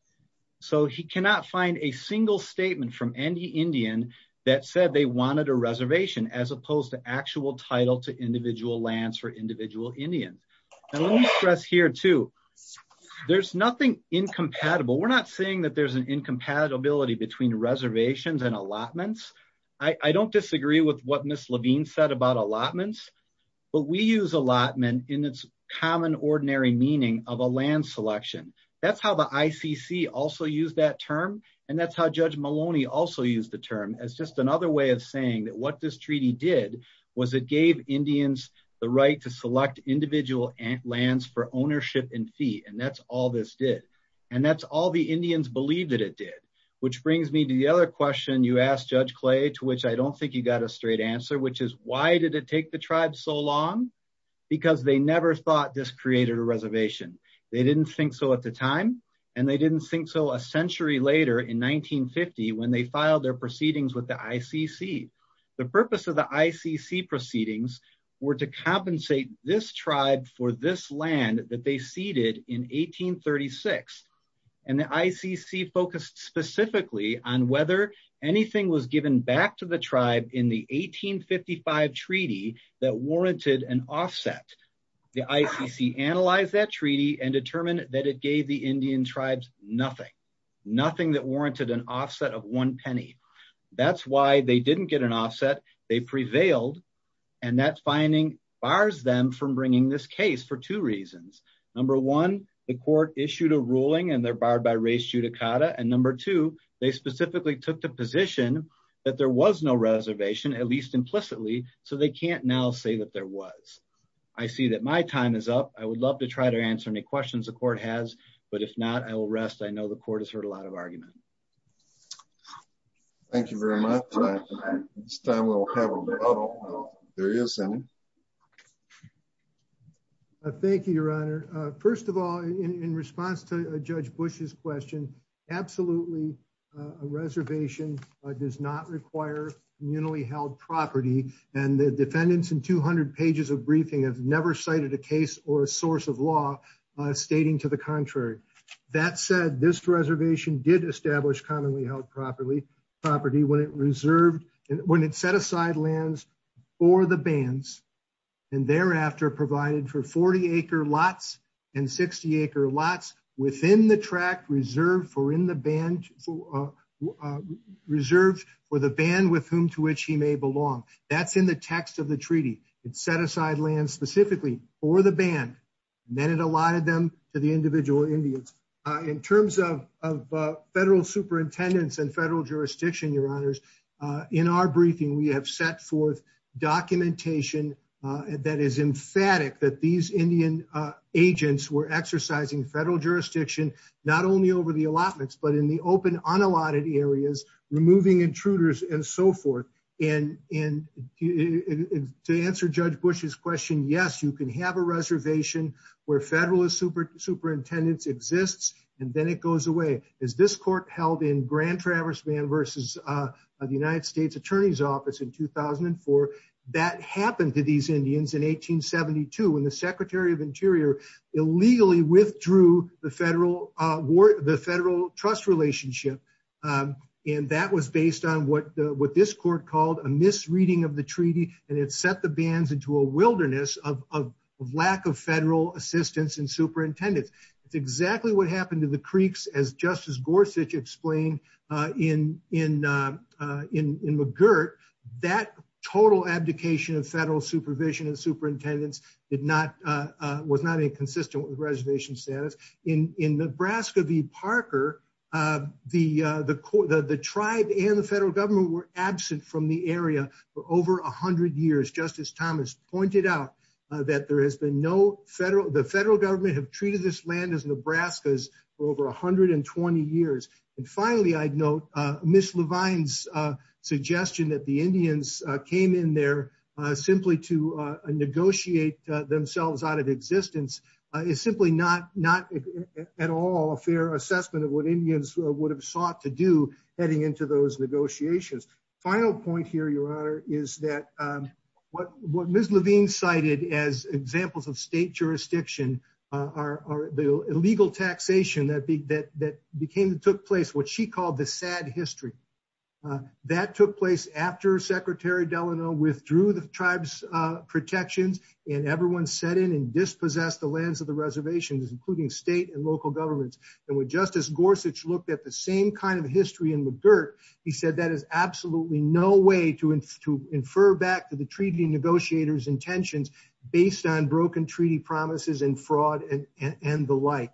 He cannot find a single statement from any Indian that said they wanted a reservation as opposed to actual title to individual lands for individual Indians. Let me stress here too, there's nothing incompatible. We're not saying that there's an incompatibility between reservations and allotments. I don't disagree with what Ms. Levine said about allotments, but we use allotment in its common ordinary meaning of a land selection. That's how the ICC also used that term, and that's how Judge Maloney also used the term as just another way of saying that what this treaty did was it gave Indians the right to select individual lands for ownership and fee, and that's all this did, and that's all the Indians believed that it did, which brings me to the other question you asked, Judge Clay, to which I don't think you got a straight answer, which is why did it take the tribe so long? Because they never thought this created a reservation. They didn't think so at the time, and they didn't think so a century later in 1950 when they filed their proceedings with the ICC. The purpose of the ICC proceedings were to compensate this tribe for this land that they ceded in 1836, and the ICC focused specifically on whether anything was given back to the tribe in the 1855 treaty that warranted an offset. The ICC analyzed that treaty and determined that it gave the Indian tribes nothing, nothing that warranted an offset of one penny. That's why they didn't get an offset. They prevailed, and that finding bars them from bringing this case for two reasons. Number one, the court issued a ruling and they're barred by res judicata, and number two, they specifically took the position that there was no reservation, at least implicitly, so they can't now say that there was. I see that my time is up. I would love to try to answer any questions the court has, but if not, I will rest. I know the court has heard a lot of arguments. Thank you very much. It's time we'll have a little serious time. Thank you, your honor. First of all, in response to Judge Bush's question, absolutely a reservation does not require communally held property, and the defendants in 200 pages of briefing have never cited a case or a source of law stating to the contrary. That said, this reservation did establish commonly held property when it reserved, when it set aside lands for the bands and thereafter provided for 40-acre lots and 60-acre lots within the tract reserved for in the band, reserved for the band with whom to which he may belong. That's in the text of the treaty. It set aside land specifically for the band, and then it allotted them to the individual Indians. In terms of federal superintendents and federal jurisdiction, your honors, in our briefing, we have set forth documentation that is emphatic that these Indian agents were exercising federal jurisdiction not only over the allotments, but in the open unallotted areas, removing intruders and so forth. To answer Judge Bush's question, yes, you can have a reservation where federal superintendents exist, and then it goes away. As this court held in Grand Traverse Band versus the United States Attorney's Office in 2004, that happened to these Indians in 1872 when the Secretary of Interior illegally withdrew the federal trust relationship, and that was based on what this court called a misreading of the treaty, and it set the bands into a wilderness of lack of federal assistance and superintendents. It's exactly what happened to the Creeks as Justice Gorsuch explained in McGirt. That total abdication of federal supervision and superintendents was not inconsistent with reservation status. In Nebraska v. Parker, the tribe and the federal government were absent from the area for over 100 years. Justice Thomas pointed out that the federal government have treated this land as Nebraska's for over 120 years. And finally, I'd note Ms. Levine's suggestion that the Indians came in there simply to negotiate themselves out of existence is simply not at all a fair assessment of what Indians would have sought to do heading into those negotiations. Final point here, Your Honor, is that what Ms. Levine cited as examples of state jurisdiction are the illegal taxation that took place, what she called the sad history. That took place after Secretary Delano withdrew the tribe's protections and everyone set in and state and local governments. And when Justice Gorsuch looked at the same kind of history in McGirt, he said that is absolutely no way to infer back to the treaty negotiators' intentions based on broken treaty promises and fraud and the like.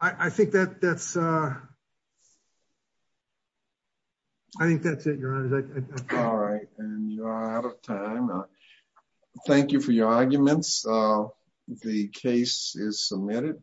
I think that's it, Your Honor. All right, and you are out of time. Thank you for your arguments. The case is submitted. Thank you. Thank you.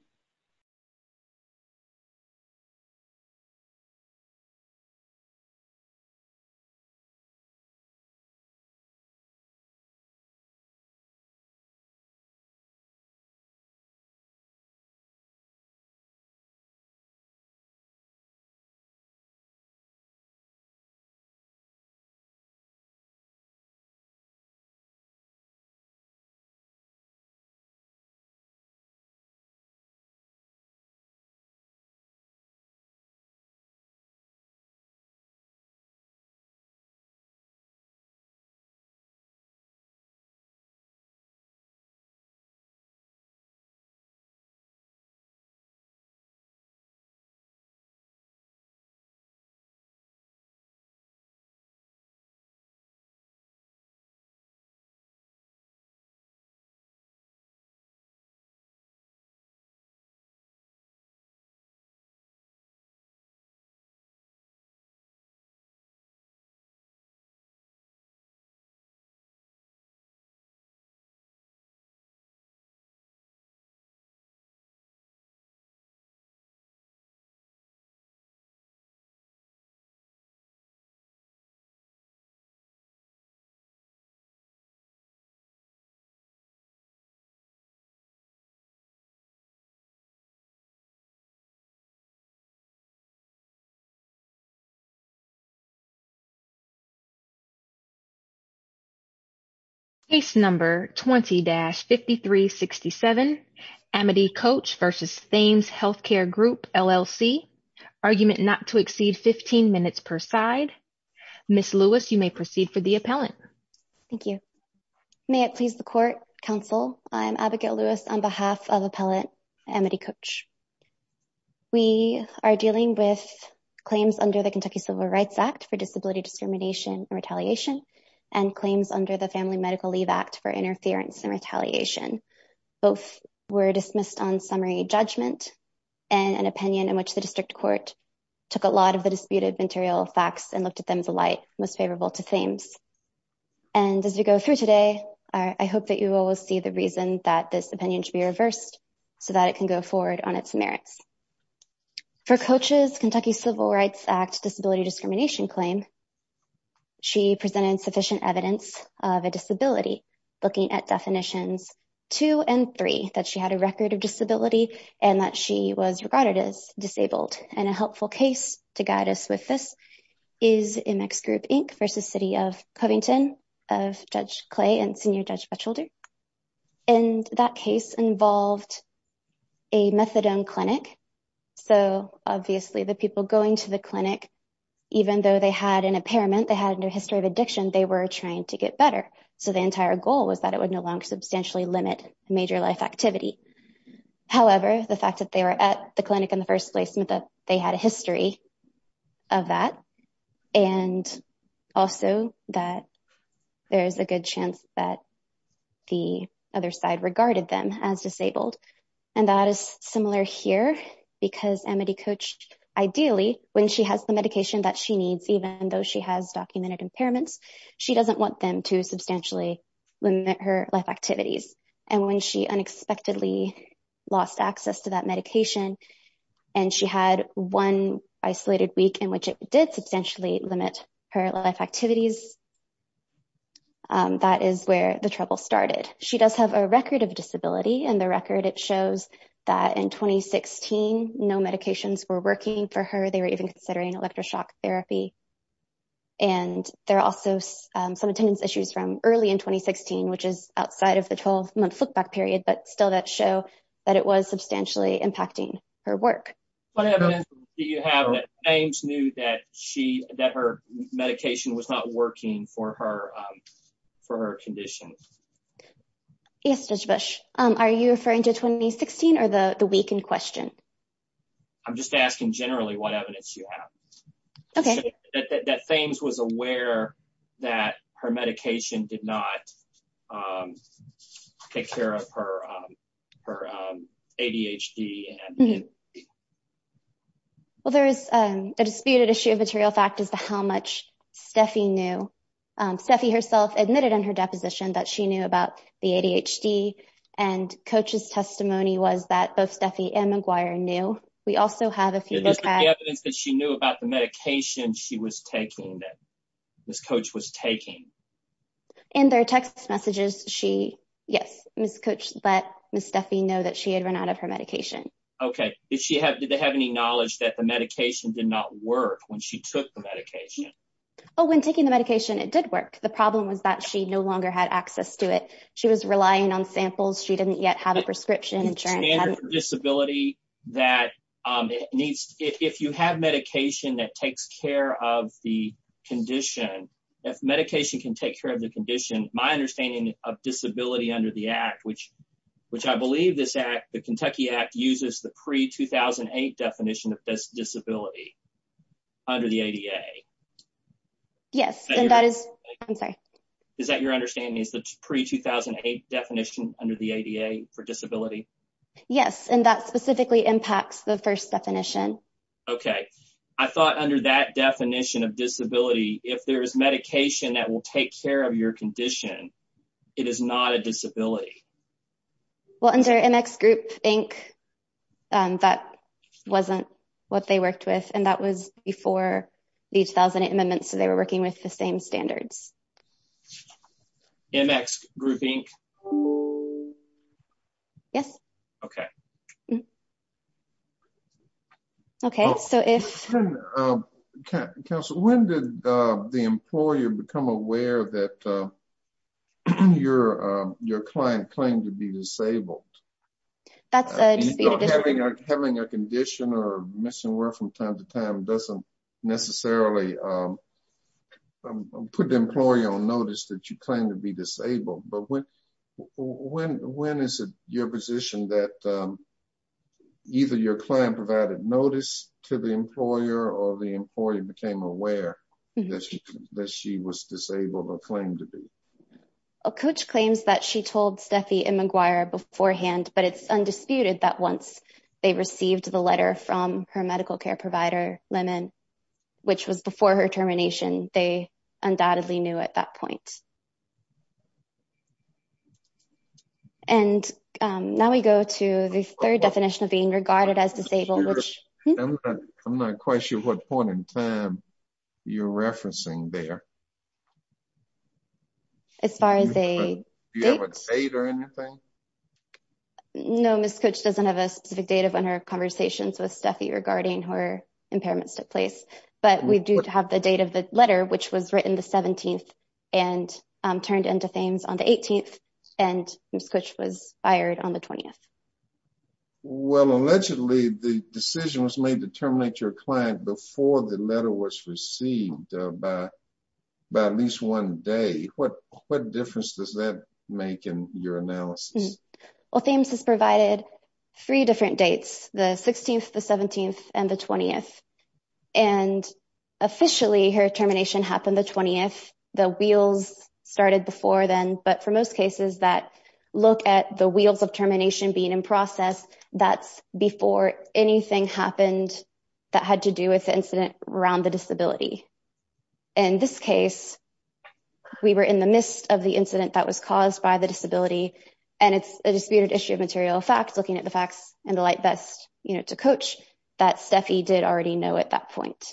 Case number 20-5367, Amity Coach v. Thames Healthcare Group, LLC, argument not to exceed 15 minutes per side. Ms. Lewis, you may proceed for the appellant. Thank you. May it please the Court, Counsel, I am Advocate Lewis on behalf of Appellant Amity Coach. We are dealing with claims under the Kentucky Civil Rights Act for disability discrimination and retaliation and claims under the Family Medical Leave Act for interference and retaliation. Both were dismissed on summary judgment and an opinion in which the district court took a lot of the disputed material facts and looked at them with a light most favorable to Thames. And as we go through today, I hope that you will see the reason that this opinion should be reversed so that it can go forward on its merits. For Coach's Kentucky Civil Rights Act disability discrimination claim, she presented sufficient evidence of a disability looking at definitions 2 and 3, that she had a record of disability and that she was regarded as disabled. And a helpful case to guide us with this is MX Group Inc. v. City of Covington of Judge Clay and Senior Judge Butchelder. And that case involved a methadone clinic. So, obviously, the people going to the clinic, even though they had an impairment, they had a history of addiction, they were trying to get better. So, the entire goal was that it would no longer substantially limit major life activity. However, the fact that they were at the clinic in the first place meant that they had a history of that. And also that there's a good chance that the other side regarded them as disabled. And that is similar here because Amity Coach, ideally, when she has the medication that she needs, even though she has documented impairments, she doesn't want them to substantially limit her life activities. And when she unexpectedly lost access to that medication and she had one isolated week in which it did substantially limit her life activities, that is where the trouble started. She does have a record of disability and the record shows that in 2016, no medications were working for her. They were even considering electroshock therapy. And there are also some attendance issues from early in 2016, which is outside of the 12-month flipback period, but still does show that it was substantially impacting her work. What evidence do you have that James knew that her medication was not working for her conditions? Yes, Dr. Bush. Are you referring to 2016 or the week in question? I'm just asking generally what evidence you have. Okay. That James was aware that her medication did not take care of her ADHD. Well, there is a disputed issue of material factors to how much Steffi herself admitted on her deposition that she knew about the ADHD. And Coach's testimony was that both Steffi and McGuire knew. We also have a piece of evidence that she knew about the medication she was taking, that Ms. Coach was taking. In their text messages, yes, Ms. Coach let Ms. Steffi know that she had run out of her medication. Okay. Did they have any knowledge that the medication did not work when she took the medication? Oh, when taking the medication, it did work. The problem was that she no longer had access to it. She was relying on samples. She didn't yet have a prescription. If you have medication that takes care of the condition, medication can take care of the condition. My understanding of disability under the act, which I believe the Kentucky Act uses the pre-2008 definition of disability under the ADA. Yes. I'm sorry. Is that your understanding, the pre-2008 definition under the ADA for disability? Yes. And that specifically impacts the first definition. Okay. I thought under that definition of disability, if there is medication that will take care of your condition, it is not a disability. Well, under NX Group Inc., that wasn't what they worked with, and that was before these 1008 amendments, so they were working with the same standards. NX Group Inc.? Yes. Okay. Counsel, when did the employer become aware that your client claimed to be disabled? Having a condition or missing work from time to time doesn't necessarily put the employer on notice that you claim to be disabled, but when is it your position that either your client provided notice to the employer or the employer became aware that she was disabled or claimed to be? Coach claims that she told Steffi and McGuire beforehand, but it's undisputed that once they received the letter from her medical care provider, Lemon, which was before her termination, they undoubtedly knew at that regard. I'm not quite sure what point in time you're referencing there. As far as a date? Do you have a date or anything? No, Ms. Cooch doesn't have a specific date of when her conversation with Steffi regarding her impairment took place, but we do have the date of the letter, which was written the 17th and turned into things on the 18th, and Ms. Cooch was fired on the 20th. Well, allegedly, the decision was made to terminate your client before the letter was received by at least one day. What difference does that make in your analysis? Well, FAMES has provided three different dates, the 16th, the 17th, and the 20th, and officially, her termination happened the 20th. The wheels started before then, but for most cases that look at the wheels of termination being in process, that's before anything happened that had to do with the incident around the disability. In this case, we were in the midst of the incident that was caused by the disability, and it's a disputed issue of material facts, looking at the facts and the like. It's a coach that Steffi did already know at that point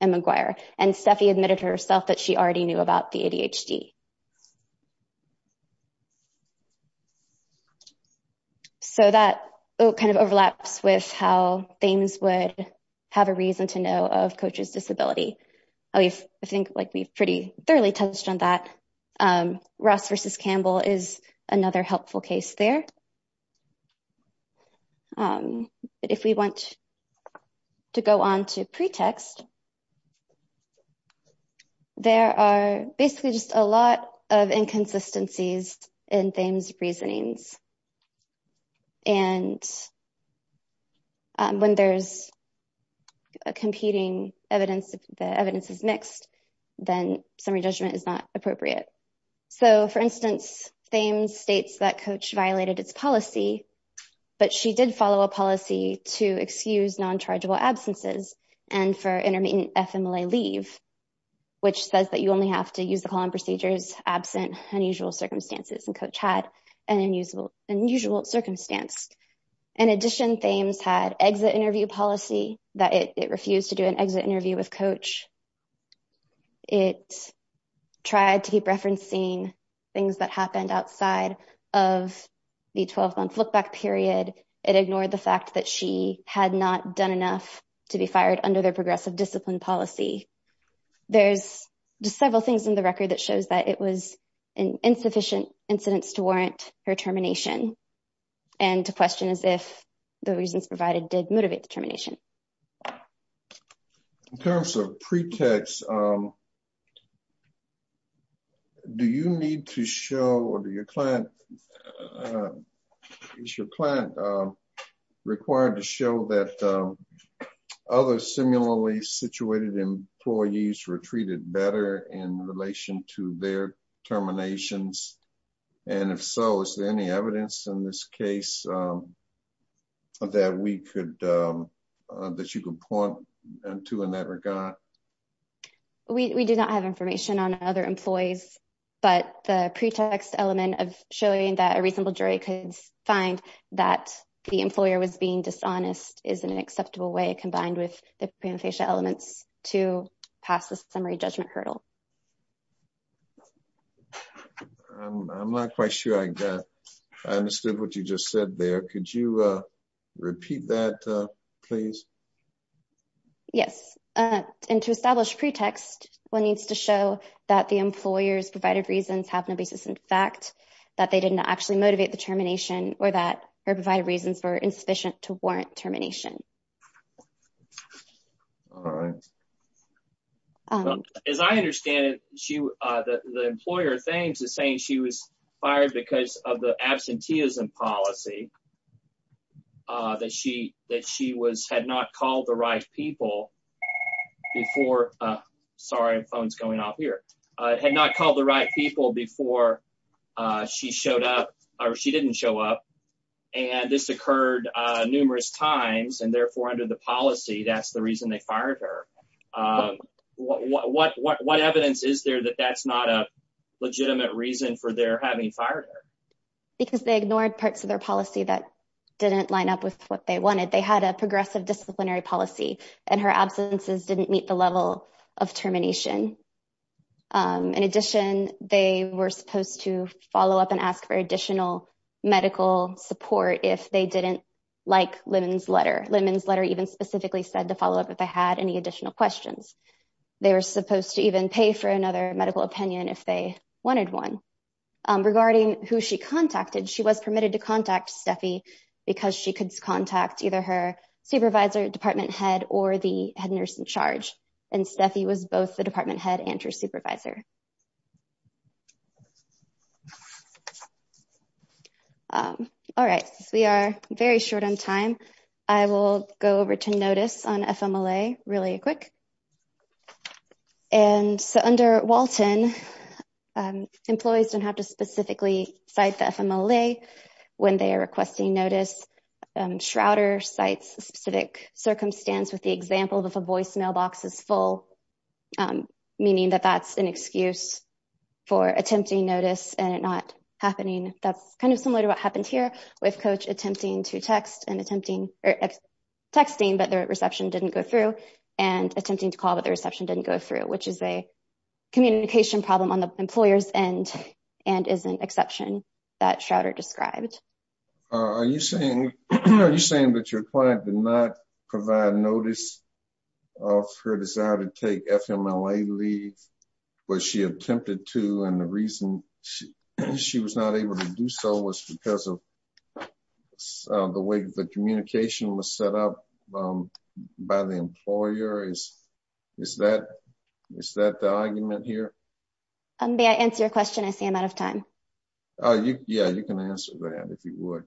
in McGuire, and Steffi admitted herself that she already knew about the ADHD. So that kind of overlaps with how FAMES would have a reason to know of Coach's disability. I think we pretty thoroughly touched on that. Ross versus Campbell is another helpful case there. If we want to go on to pretext, there are basically just a lot of inconsistencies in FAMES reasonings, and when there's competing evidence, the evidence is mixed, then summary judgment is not appropriate. So, for instance, FAMES states that Coach violated its policy, but she did follow a policy to excuse non-chargeable absences and for intermittent FMLA leave, which says that you only have to use the call-in procedures absent unusual circumstances, and Coach had an unusual circumstance. In addition, FAMES had exit interview policy that it refused to do an exit interview with Coach. It tried to keep referencing things that happened outside of the 12-month look-back period. It ignored the fact that she had not done enough to be fired under their progressive discipline policy. There's just several things in the record that shows that it was an insufficient incidence to warrant her termination and to question if the reasons provided did motivate termination. In terms of pretext, do you need to show or is your client required to show that other similarly-situated employees were treated better in relation to their terminations, and if so, is there any evidence in this case that you can point to in that regard? We do not have information on other employees, but the pretext element of showing that a reasonable jury could find that the employer was being dishonest is an acceptable way, combined with the preemptation element, to pass the summary judgment hurdle. I'm not quite sure I understood what you just said there. Could you repeat that, please? Yes. To establish pretext, one needs to show that the employer's provided reasons have no basis in fact, that they did not actually motivate the termination, or that her provided reasons were insufficient to warrant termination. All right. As I understand it, the employer is saying she was fired because of the absenteeism policy, that she had not called the right people before she showed up, or she didn't show up, and this occurred numerous times, and therefore under the policy, that's the reason they fired her. What evidence is there that that's not a legitimate reason for their having fired her? Because they ignored parts of their policy that didn't line up with what they wanted. They had a progressive disciplinary policy, and her absences didn't meet the level of termination. In addition, they were supposed to follow up and ask for additional medical support if they didn't like Lemon's letter. Lemon's letter even specifically said to follow up if they had any additional questions. They were supposed to even pay for another medical opinion if they wanted one. Regarding who she contacted, she was permitted to contact Steffi because she could contact either her supervisor, department head, or the head nurse in charge, and Steffi was both department head and her supervisor. All right, we are very short on time. I will go over to notice on FMLA really quick, and so under Walton, employees don't have to specifically cite the FMLA when they are requesting notice. Shrouder cites a specific circumstance with the example of a voicemail box is full, meaning that that's an excuse for attempting notice and it not happening. That's kind of similar to what happened here with Coach attempting to text and attempting texting, but their reception didn't go through, and attempting to call, but the reception didn't go through, which is a communication problem on the employer's end and is an exception that Shrouder described. Are you saying that your client did not provide notice of her desire to take FMLA leave when she attempted to, and the reason she was not able to do so was because of the way the communication was set up by the employer? Is that the argument here? May I answer your question? I'm out of time. Yeah, you can answer that if you would.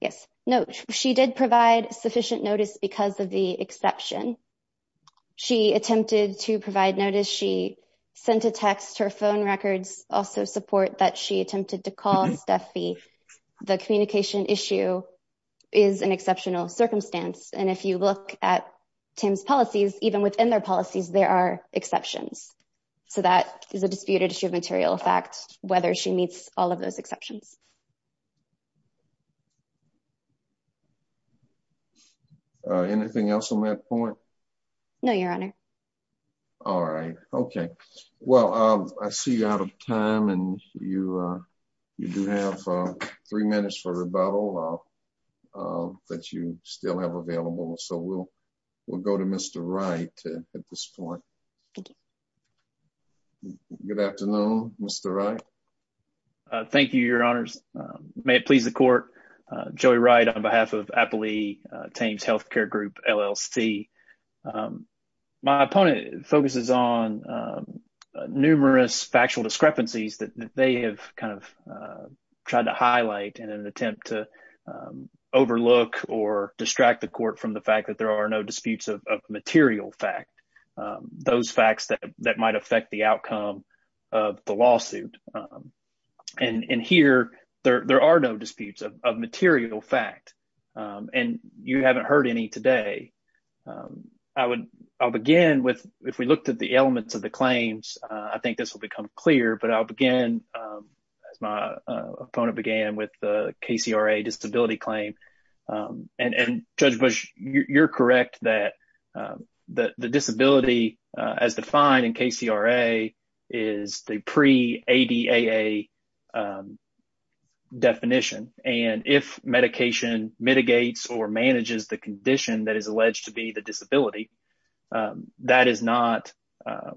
Yes, no, she did provide sufficient notice because of the exception. She attempted to provide notice. She sent a text. Her phone records also support that she attempted to call Steffi. The communication issue is an exceptional circumstance, and if you look at TAM's policies, even within their policies, there are exceptions, so that is a disputed issue of material facts, whether she meets all of those exceptions. Anything else on that point? No, your honor. All right, okay. Well, I see you're out of time, and you do have three minutes for rebuttal, but you still have available, so we'll go to Mr. Wright. Thank you, your honors. May it please the court, Joey Wright on behalf of Appalachian TAM's health care group, LLC. My point focuses on numerous factual discrepancies that they have kind of tried to highlight in an attempt to overlook or distract the court from the fact that there are no disputes of material facts, those facts that might affect the outcome of the lawsuit, and here there are no disputes of material fact, and you haven't heard any today. I'll begin with, if we looked at the elements of the claims, I think this will become clear, but I'll begin, my opponent began with the KCRA disability claim, and Judge Bush, you're correct that the disability as defined in KCRA is the pre-ADAA definition, and if medication mitigates or manages the condition that is alleged to be the disability, that is not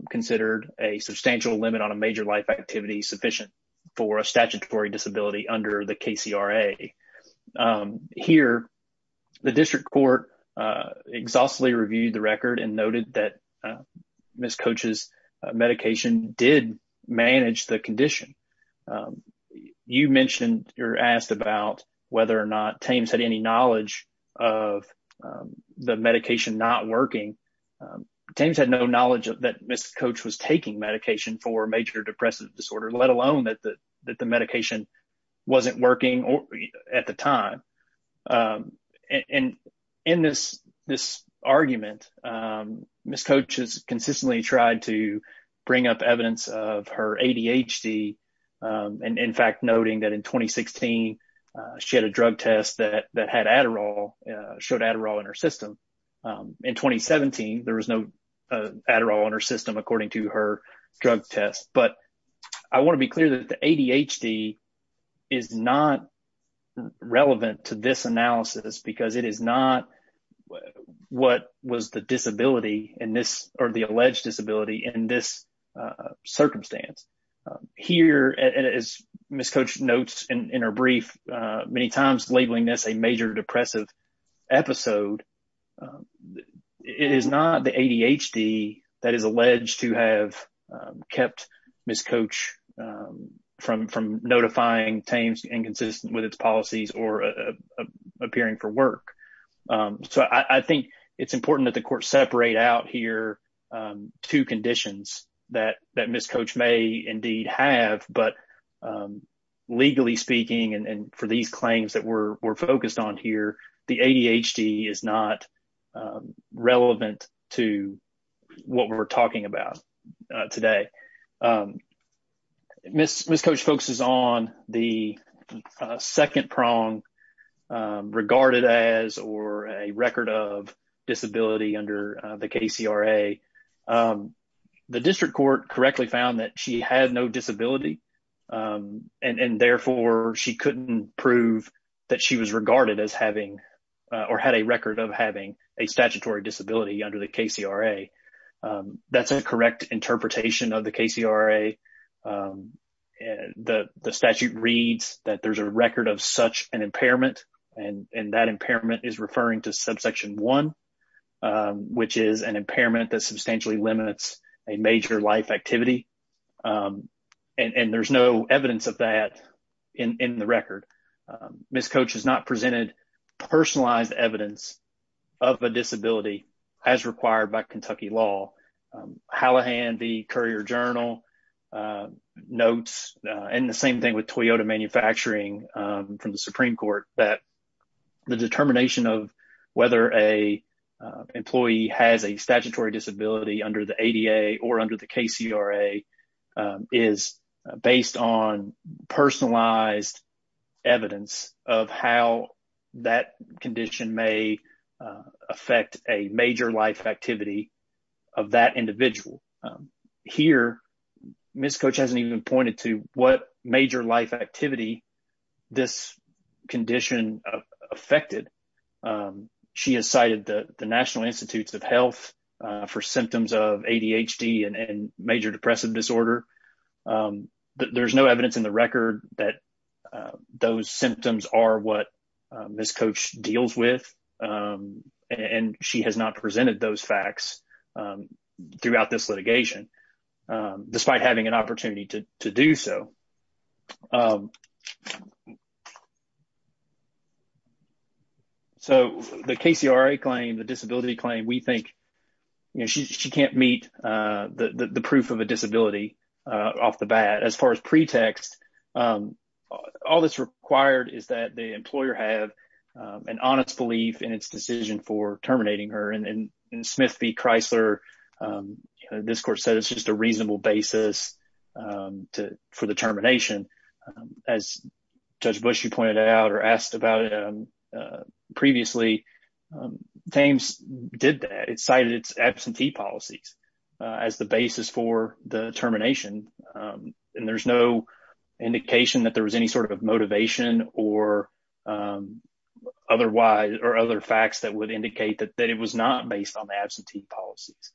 considered a substantial limit on a major life activity sufficient for a statutory disability under the KCRA. Here, the district court exhaustively reviewed the record and noted that Ms. Coach's medication did manage the condition. You mentioned or asked about whether or not TAM's had any knowledge of the medication not working. TAM's had no knowledge that Ms. Coach was taking medication for major depressive disorder, let alone that the medication wasn't working at the time, and in this argument, Ms. Coach has consistently tried to bring up evidence of her ADHD, and in fact, noting that in 2016, she had a drug test that had Adderall, showed Adderall in her test, but I want to be clear that the ADHD is not relevant to this analysis because it is not what was the disability in this or the alleged disability in this circumstance. Here, as Ms. Coach notes in her brief, many times labeling this a major depressive episode, it is not the ADHD that is alleged to have kept Ms. Coach from notifying TAM's inconsistency with its policies or appearing for work, so I think it's important that the court separate out here two conditions that Ms. Coach may indeed have, but legally speaking and for these claims that we're relevant to what we're talking about today. Ms. Coach focuses on the second prong regarded as or a record of disability under the KCRA. The district court correctly found that she had no disability, and therefore, she couldn't prove that she was regarded as having or had a record of having a statutory disability under the KCRA. That's a correct interpretation of the KCRA. The statute reads that there's a record of such an impairment, and that impairment is referring to subsection 1, which is an impairment that substantially limits a major life activity, and there's no evidence of that in the record. Ms. Coach has not presented personalized evidence of a disability as required by Kentucky law. Hallahan, the Courier-Journal notes, and the same thing with Toyota manufacturing from the Supreme Court, that the determination of whether an employee has a statutory disability under the ADA or under the KCRA is based on personalized evidence of how that condition may affect a major life activity of that individual. Here, Ms. Coach hasn't even pointed to what major life activity this condition affected. She has cited the National Institutes of Health for symptoms of ADHD and major depressive disorder, but there's no evidence in the record that those symptoms are what Ms. Coach deals with, and she has not presented those facts throughout this litigation, despite having an opportunity to do so. So, the KCRA claim, the disability claim, we think, you know, she can't meet the proof of a disability off the bat. As far as pretext, all that's required is that the employer have an honest belief in its decision for terminating her, and Smith v. Chrysler, Ms. Coach says it's just a reasonable basis for the termination, but it's not a reasonable basis as Judge Bushy pointed out or asked about previously. Thames did that. It cited its absentee policies as the basis for the termination, and there's no indication that there was any sort of motivation or otherwise or other facts that would indicate that it was not based on the absentee policies.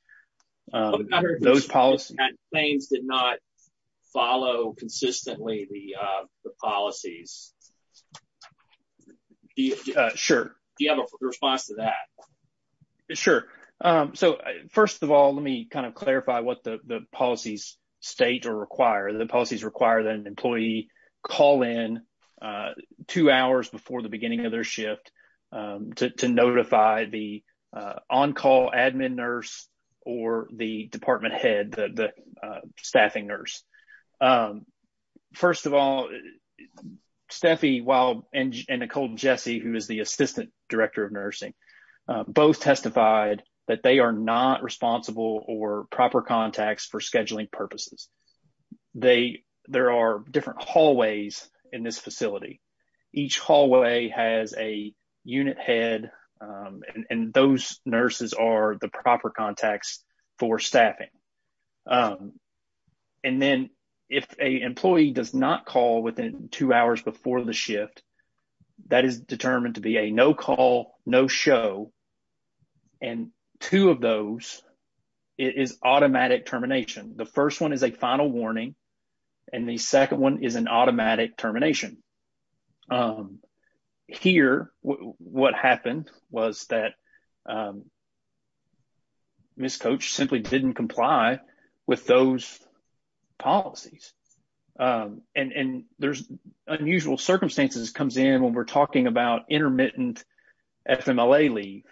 What about if Ms. Coach and Thames did not follow consistently the policies? Sure. Do you have a response to that? Sure. So, first of all, let me kind of clarify what the policies state or require. The policies require that an employee call in two hours before the beginning of their shift to notify the admin nurse or the department head, the staffing nurse. First of all, Steffi and Nicole Jessie, who is the assistant director of nursing, both testified that they are not responsible or proper contacts for scheduling purposes. There are different hallways in this facility. Each hallway has a unit head, and those nurses are the proper contacts for staffing. And then if an employee does not call within two hours before the shift, that is determined to be a no call, no show, and two of those is automatic termination. The first one is a final warning, and the second one is an automatic termination. Here, what happened was that Ms. Coach simply did not comply with those policies. And there are unusual circumstances that come in when we are talking about intermittent FMLA leave.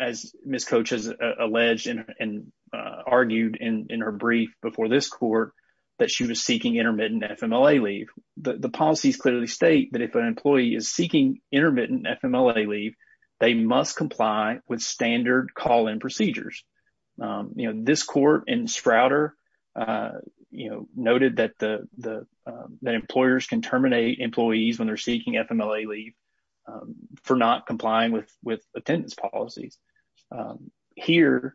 As Ms. Coach has alleged and argued in her brief before this court, that she was seeking intermittent FMLA leave. The policies clearly state that if an employee is seeking intermittent FMLA leave, they must comply with standard call-in procedures. This court in Sprouter noted that employers can terminate employees when they are seeking FMLA leave for not complying with attendance policy. Here,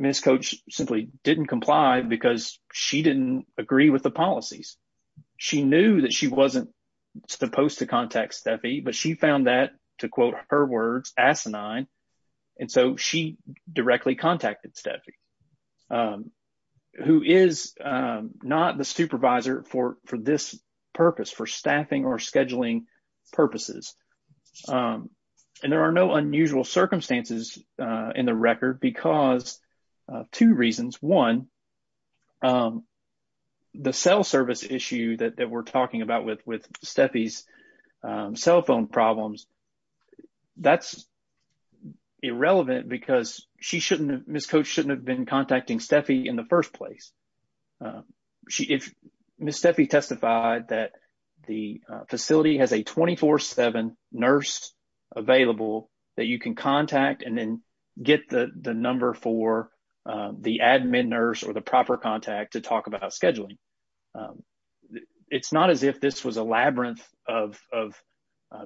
Ms. Coach simply did not comply because she did not agree with the policies. She knew that she was not supposed to contact Steffi, but she found that, to quote her words, asinine, and so she directly contacted Steffi, who is not the supervisor for this purpose, for staffing or scheduling purposes. And there are no unusual circumstances in the record because of two reasons. One, the cell service issue that we are talking about with Steffi's cell phone problems, that is irrelevant because Ms. Coach should not have been contacting Steffi in the first place. Ms. Steffi testified that the facility has a 24-7 nurse available that you can contact and then the number for the admin nurse or the proper contact to talk about scheduling. It is not as if this was a labyrinth of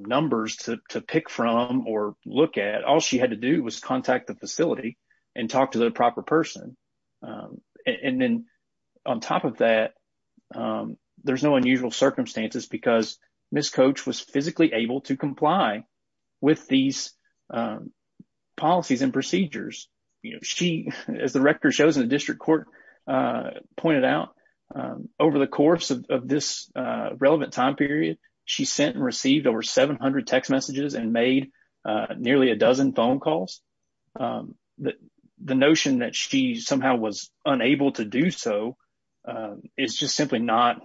numbers to pick from or look at. All she had to do was contact the facility and talk to the proper person. And then, on top of that, there are no unusual circumstances because Ms. Coach was physically able to comply with these policies and procedures. As the record shows and the district court pointed out, over the course of this relevant time period, she sent and received over 700 text messages and made nearly a dozen phone calls. The notion that she somehow was unable to do so is just simply not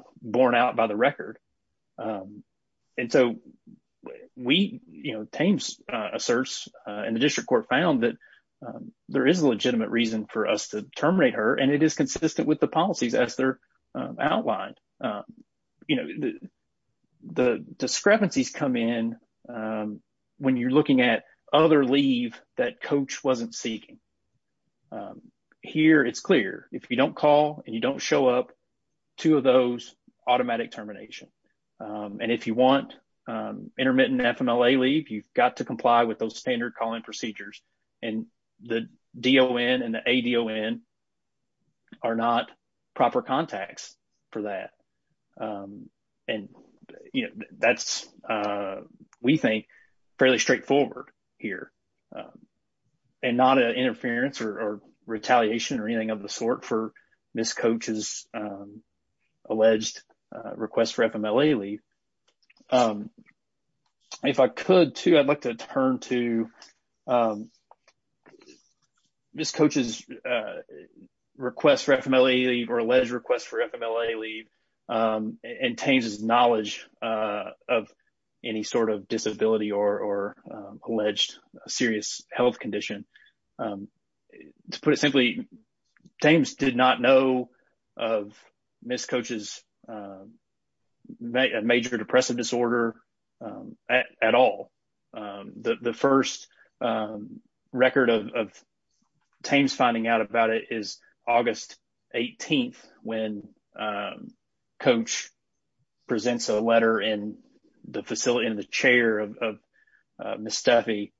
out by the record. And so, we, you know, obtained a search and the district court found that there is a legitimate reason for us to terminate her and it is consistent with the policies as they're outlined. You know, the discrepancies come in when you're looking at other leave that Coach wasn't seeking. Here, it's clear. If you don't call and you don't show up, two of those automatic termination. And if you want intermittent FMLA leave, you've got to comply with those standard calling procedures. And the DON and the ADON are not proper contacts for that. And, you know, that's, we think, fairly straightforward here and not an interference or request for FMLA leave. If I could, too, I'd like to turn to Ms. Coach's request for FMLA leave or alleged request for FMLA leave and Tame's knowledge of any sort of disability or alleged serious health condition. To put it simply, Tame's did not know of Ms. Coach's major depressive disorder at all. The first record of Tame's finding out about it is August 18th when Coach presents a letter in the chair of Ms. Steffi.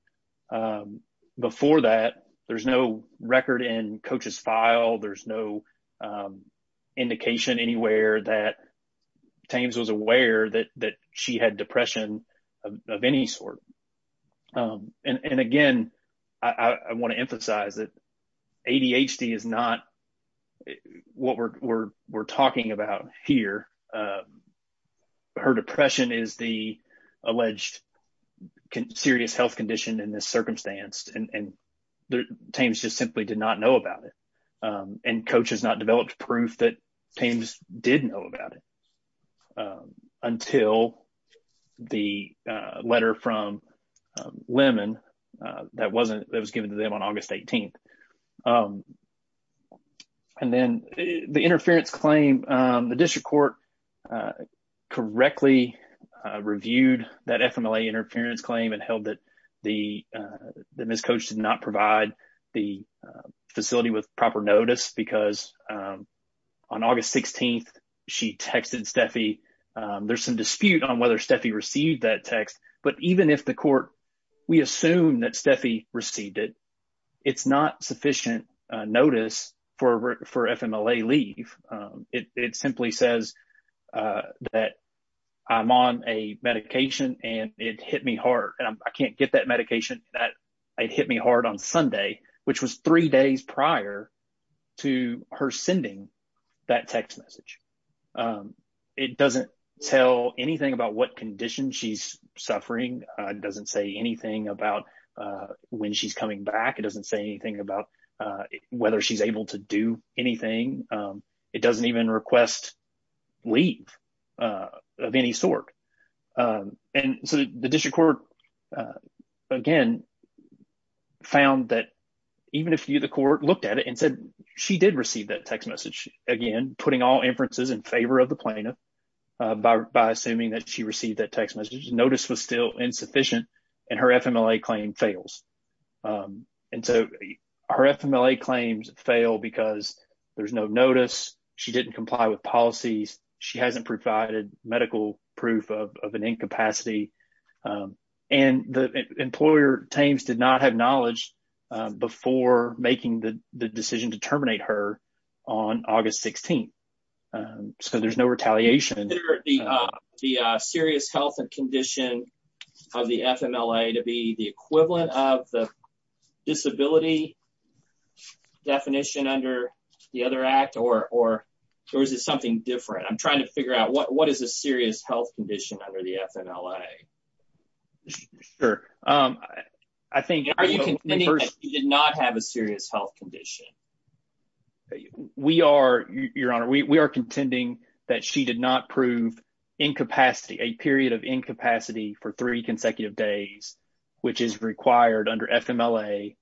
Before that, there's no record in Coach's file. There's no indication anywhere that Tame's was aware that she had depression of any sort. And, again, I want to emphasize that ADHD is not what we're talking about here. Her depression is the alleged serious health condition in this circumstance. And Tame's just simply did not know about it. And Coach has not developed proof that Tame's did know about it until the letter from Lemon that was given to them on August 18th. And then the interference claim, the district court correctly reviewed that FMLA interference claim and held that Ms. Coach did not provide the facility with proper notice because on August 16th she texted Steffi. There's some dispute on whether Steffi received that text, but even if the court, we assume that Steffi received it, it's not sufficient notice for FMLA leave. It simply says that I'm on a medication and it hit me hard. I can't get that medication. It hit me hard on Sunday, which was three days prior to her sending that text message. It doesn't tell anything about what condition she's suffering. It doesn't say anything about when she's coming back. It doesn't say anything about whether she's able to do anything. It doesn't even request leave of any sort. And so the district court, again, found that even if the court looked at it and said she did receive that text message, again, putting all inferences in favor of the plaintiff by assuming that she received that text message, notice was still insufficient and her FMLA claim fails. And so her FMLA claims fail because there's no notice. She didn't comply with policies. She hasn't provided medical proof of an incapacity. And the employer, Thames, did not have knowledge before making the decision to terminate her on August 16th. So there's no retaliation. The serious health condition of the FMLA to be the equivalent of the disability definition under the other act, or is it something different? I'm trying to figure out what is the serious health condition under the FMLA? Sure. I think you did not have a serious health condition. We are, Your Honor, we are contending that she did not prove incapacity, a period of incapacity for three consecutive days, which is required under FMLA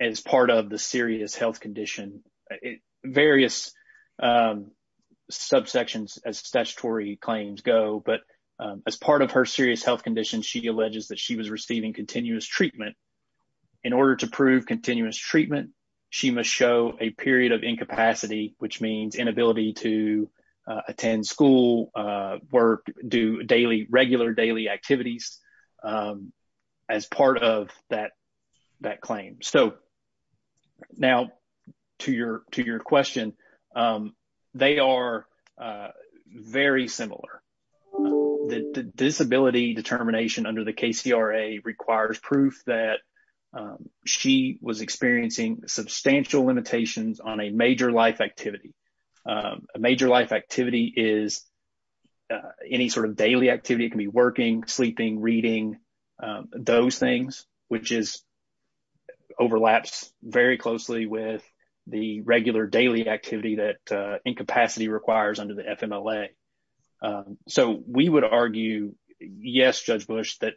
as part of the serious health condition. Various subsections as statutory claims go, but as part of her serious health condition, she alleges that she was receiving continuous treatment. In order to prove continuous treatment, she must show a period of incapacity, which means inability to attend school, work, do daily, regular daily activities as part of that claim. So now to your question, they are very similar. The disability determination under the KCRA requires proof that she was experiencing substantial limitations on a major life activity. A major life activity is any sort of daily activity. It can be working, sleeping, reading, those things, which overlaps very closely with the regular daily activity that incapacity requires under the FMLA. So we would argue, yes, Judge Bush, that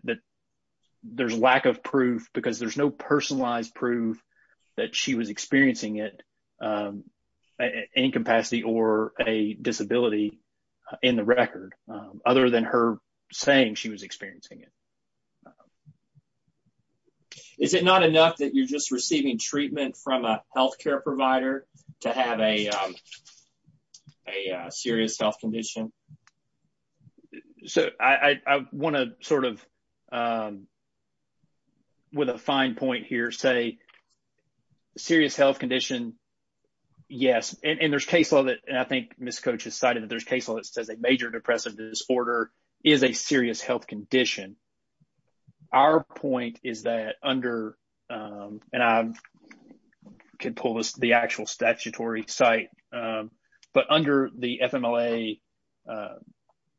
there's lack of proof because there's no personalized proof that she was experiencing it, incapacity or a disability in the record, other than her saying she was experiencing it. Is it not enough that you're just receiving treatment from a healthcare provider to have a serious health condition? So I want to sort of, with a fine point here, say serious health condition, yes, and there's case law that, and I think Ms. Coach has cited that there's case law that says a major depressive disorder is a serious health condition. Our point is that under, and I can pull the actual statutory site, but under the FMLA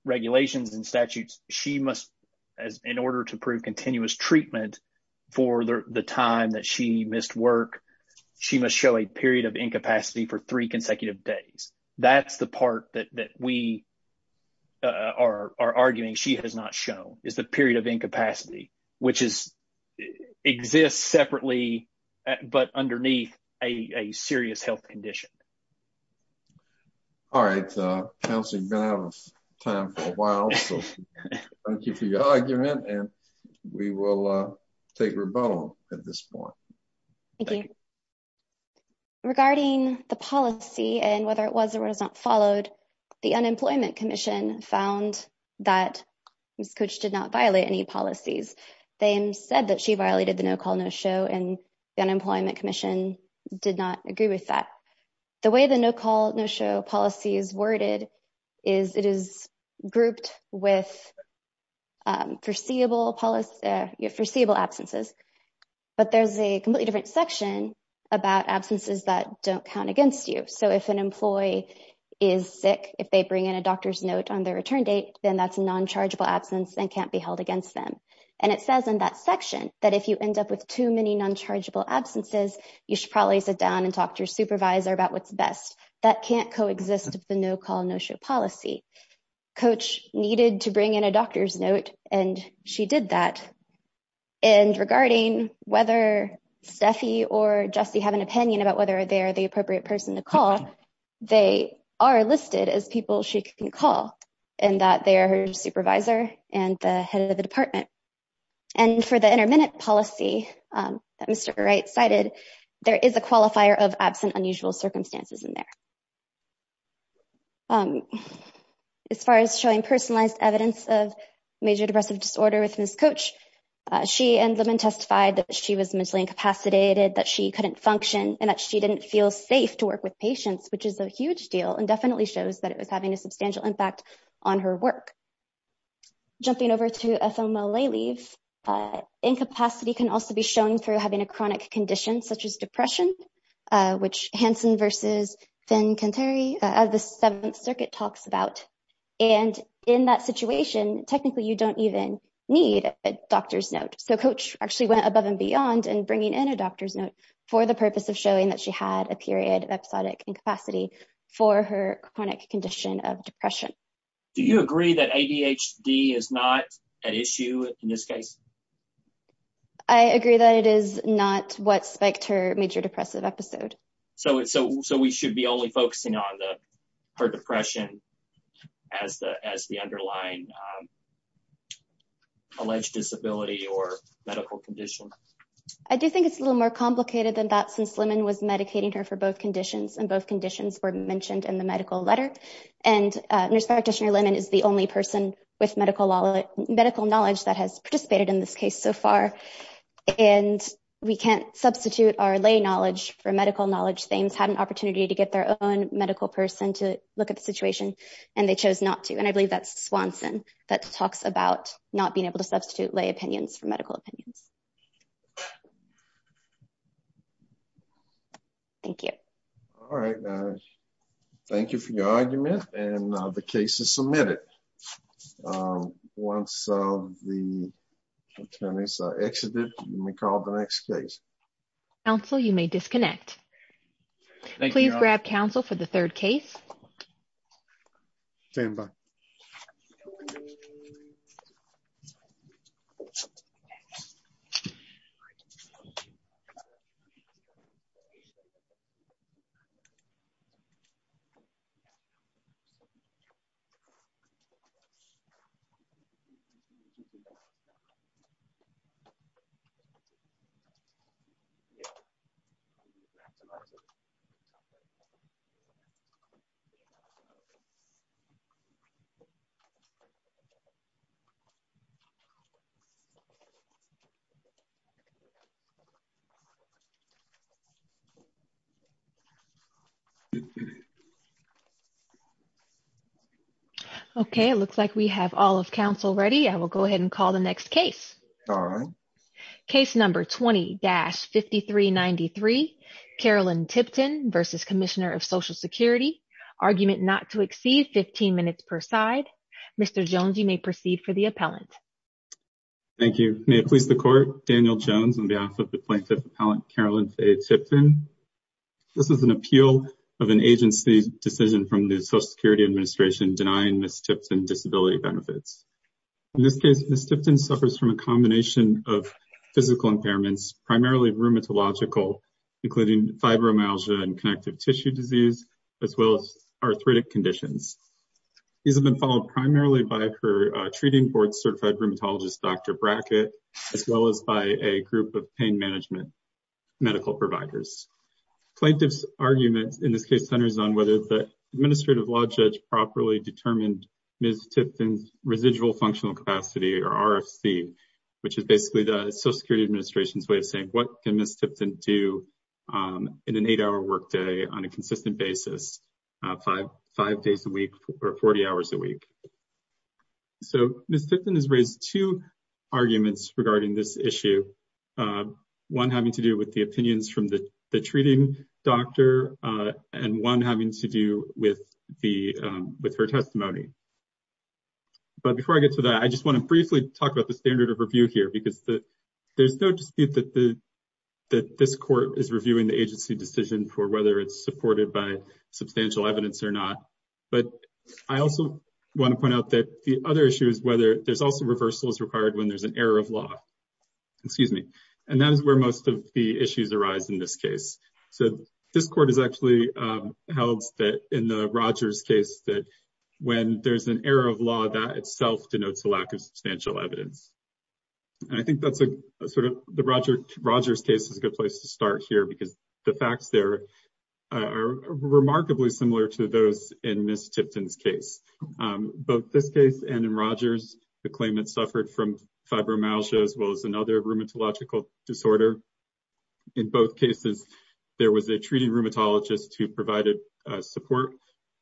regulations and statutes, she must, in order to prove continuous treatment for the time that she missed work, she must show a period of incapacity for three consecutive days. That's the part that we are arguing she has not shown, is the period of incapacity, which exists separately, but underneath a serious health condition. All right, Counselor, you've been out of time for a while, so thank you for your argument, and we will take rebuttal at this point. Thank you. Regarding the policy and whether it was or was not followed, the Unemployment Commission found that Ms. Coach did not violate any policies. They said that she violated the no-call, no-show, and the Unemployment Commission did not agree with that. The way the no-call, no-show policy is worded is it is grouped with foreseeable absences, but there's a completely different section about absences that don't count against you. So if an employee is sick, if they bring in a doctor's note on their return date, then that's a non-chargeable absence and can't be held against them. And it says in that section that if you end up with too many non-chargeable absences, you should probably sit down and talk to your supervisor about what's best. That can't coexist with the no-call, no-show policy. Coach needed to bring in a doctor's note, and she did that. And regarding whether Steffi or Justie have an opinion about whether they are the appropriate person to call, they are listed as people she can call and that they are her supervisor and the head of the department. And for the intermittent policy that Mr. Wright cited, there is a qualifier of absent unusual circumstances in there. As far as showing personalized evidence of major depressive disorder with Ms. Coach, she ended up and testified that she was mentally incapacitated, that she couldn't function, and that she didn't feel safe to work with patients, which is a huge deal and definitely shows that it was having a substantial impact on her work. Jumping over to FMLA leaves, incapacity can also be shown through having a chronic condition, such as depression, which Hansen versus Sen-Kantari, as the Seventh Circuit talks about. And in that situation, technically you don't even need a doctor's note. So Coach actually went above and beyond in bringing in a doctor's note for the purpose of showing that she had a period of episodic incapacity for her chronic condition of depression. Do you agree that ADHD is not an issue in this case? I agree that it is not what spiked her major depressive episode. So we should be only focusing on her depression as the underlying alleged disability or medical condition. I do think it's a little more complicated than that since Lemon was medicating her for both conditions, and both conditions were mentioned in the medical letter. And nurse practitioner Lemon is the only person with medical knowledge that has participated in this case so far, and we can't substitute our lay knowledge for medical knowledge. They had an opportunity to get their own medical person to look at the situation, and they chose not to. And I believe that's Swanson that talks about not being able to substitute lay opinions for medical opinions. Thank you. All right. Thank you for your argument, and the case is submitted. Once the attorneys are exited, you may call the next case. Counsel, you may disconnect. Thank you. Please grab counsel for the third case. Okay. It looks like we have all of counsel ready. I will go ahead and call the next case. All right. Case number 20-5393, Carolyn Tipton versus Commissioner of Social Security. Argument not to exceed 15 minutes per side. Mr. Jones, you may proceed for the appellant. Thank you. May it please the court. Daniel Jones on behalf of the plaintiff's appellant, Carolyn A. Tipton. This is an appeal of an agency decision from the Social Security Administration denying Ms. Tipton disability benefits. In this case, Ms. Tipton suffers from a combination of physical impairments, primarily rheumatological, including fibromyalgia and connective tissue disease, as well as arthritic conditions. These have been followed primarily by her treating board certified rheumatologist, Dr. Brackett, as well as by a group of pain management medical providers. Plaintiff's argument in this case centers on whether the administrative law judge properly determined Ms. Tipton's residual functional capacity, or RFC, which is basically the Social Security Administration's way of saying what can Ms. Tipton do in an eight-hour workday on a consistent basis, five days a week or 40 hours a week. Ms. Tipton has raised two arguments regarding this issue, one having to do with the opinions from the treating doctor and one having to do with her testimony. Before I get to that, I just want to briefly talk about the standard of review here, because there's no dispute that this court is reviewing the agency decision for whether it's supported by substantial evidence or not. But I also want to point out that the other issue is whether there's also reversals required when there's an error of law. And that's where most of the issues arise in this case. So this court has actually held that in the Rogers case that when there's an error of law, that itself denotes a lack of substantial evidence. And I think that the Rogers case is a good place to start here, because the facts there are remarkably similar to those in Ms. Tipton's case. Both this case and in Rogers, the claimant suffered from fibromyalgia as well as another rheumatological disorder. In both cases, there was a treating rheumatologist who provided support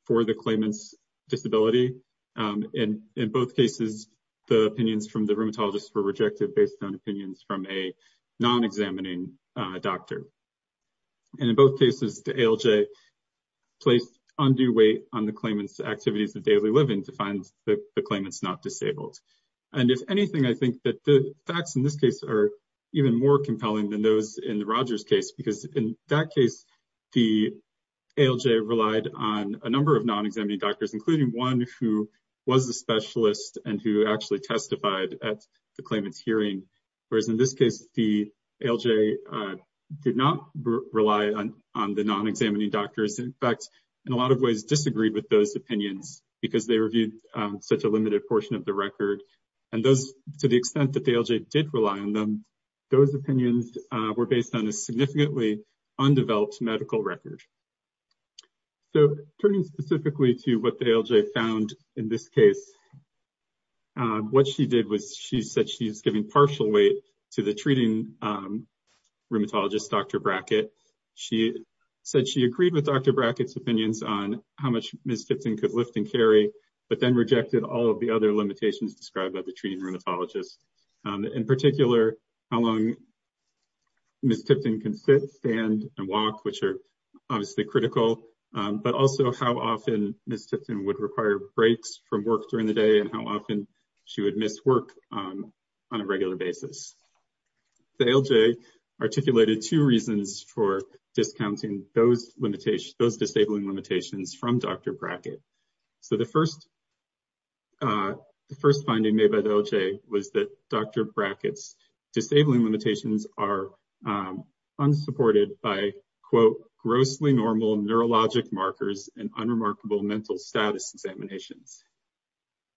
for the claimant's disability. And in both cases, the opinions from the rheumatologist were rejected based on opinions from a non-examining doctor. And in both cases, the ALJ placed undue weight on the claimant's activities of daily living to find that the claimant's not disabled. And if anything, I think that the facts in this case are even more compelling than those in the Rogers case, because in that case, the ALJ relied on a number of non-examining doctors, including one who was a specialist and who actually testified at the claimant's hearing. Whereas in this case, the ALJ did not rely on the non-examining doctors. In fact, in a lot of ways, disagreed with those opinions, because they reviewed such a limited portion of the record. And to the extent that the ALJ did rely on them, those opinions were based on a significantly undeveloped medical record. So turning specifically to what the ALJ found in this case, what she did was she said she was giving partial weight to the treating rheumatologist, Dr. Brackett. She said she agreed with Dr. Brackett's opinions on how much Ms. Tipton could lift and carry, but then rejected all of the other limitations described by the treating rheumatologist. In particular, how long Ms. Tipton can sit, stand, and walk, which are honestly critical. But also how often Ms. Tipton would require breaks from work during the day and how often she would miss work on a regular basis. The ALJ articulated two reasons for discounting those disabling limitations from Dr. Brackett. So the first finding made by the ALJ was that Dr. Brackett's disabling limitations are unsupported by, quote, grossly normal neurologic markers and unremarkable mental status examinations.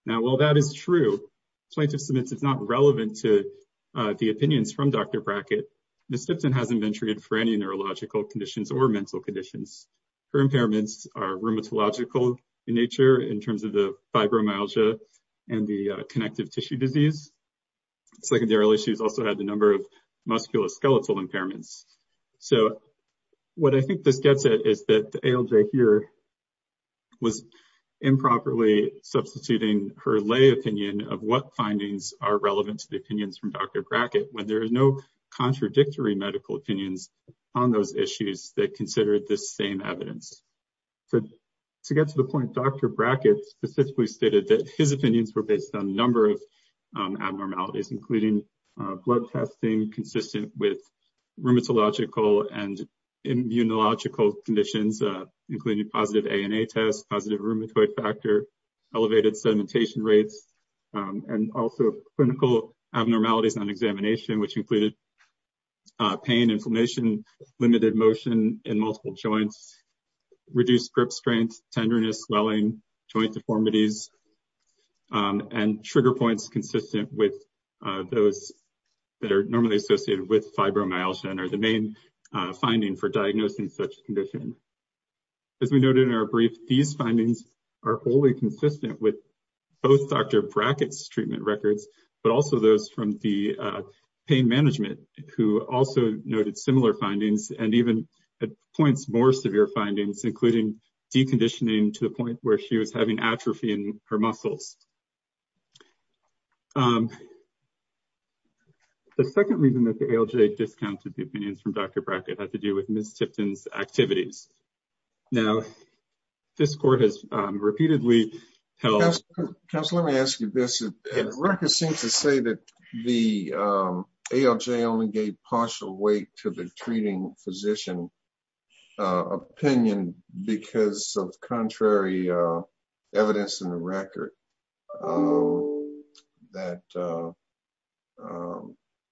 Now, while that is true, scientists admit it's not relevant to the opinions from Dr. Brackett. Ms. Tipton hasn't been treated for any neurological conditions or conditions. Her impairments are rheumatological in nature in terms of the fibromyalgia and the connective tissue disease. Secondarily, she's also had a number of musculoskeletal impairments. So what I think that gets at is that the ALJ here was improperly substituting her lay opinion of what findings are relevant to the opinions from Dr. Brackett when there is no contradictory medical opinions on those issues that consider this same evidence. But to get to the point, Dr. Brackett specifically stated that his opinions were based on a number of abnormalities, including blood testing consistent with rheumatological and immunological conditions, including positive ANA tests, positive rheumatoid factor, elevated sedimentation rates, and also clinical abnormalities on examination, which included pain, inflammation, limited motion in multiple joints, reduced grip strength, tenderness, swelling, joint deformities, and trigger points consistent with those that are normally associated with fibromyalgia and are the main finding for diagnosing such conditions. As we noted in our brief, these findings are wholly consistent with both Dr. Brackett's treatment records, but also those from the pain management, who also noted similar findings and even points more severe findings, including deconditioning to the point where she was having atrophy in her muscles. The second reason that the ALJ discounted the opinions from Dr. Brackett had to do with activities. Now, this court has repeatedly held— Tess, let me ask you this. The records seem to say that the ALJ only gave partial weight to the treating physician opinion because of contrary evidence in the record that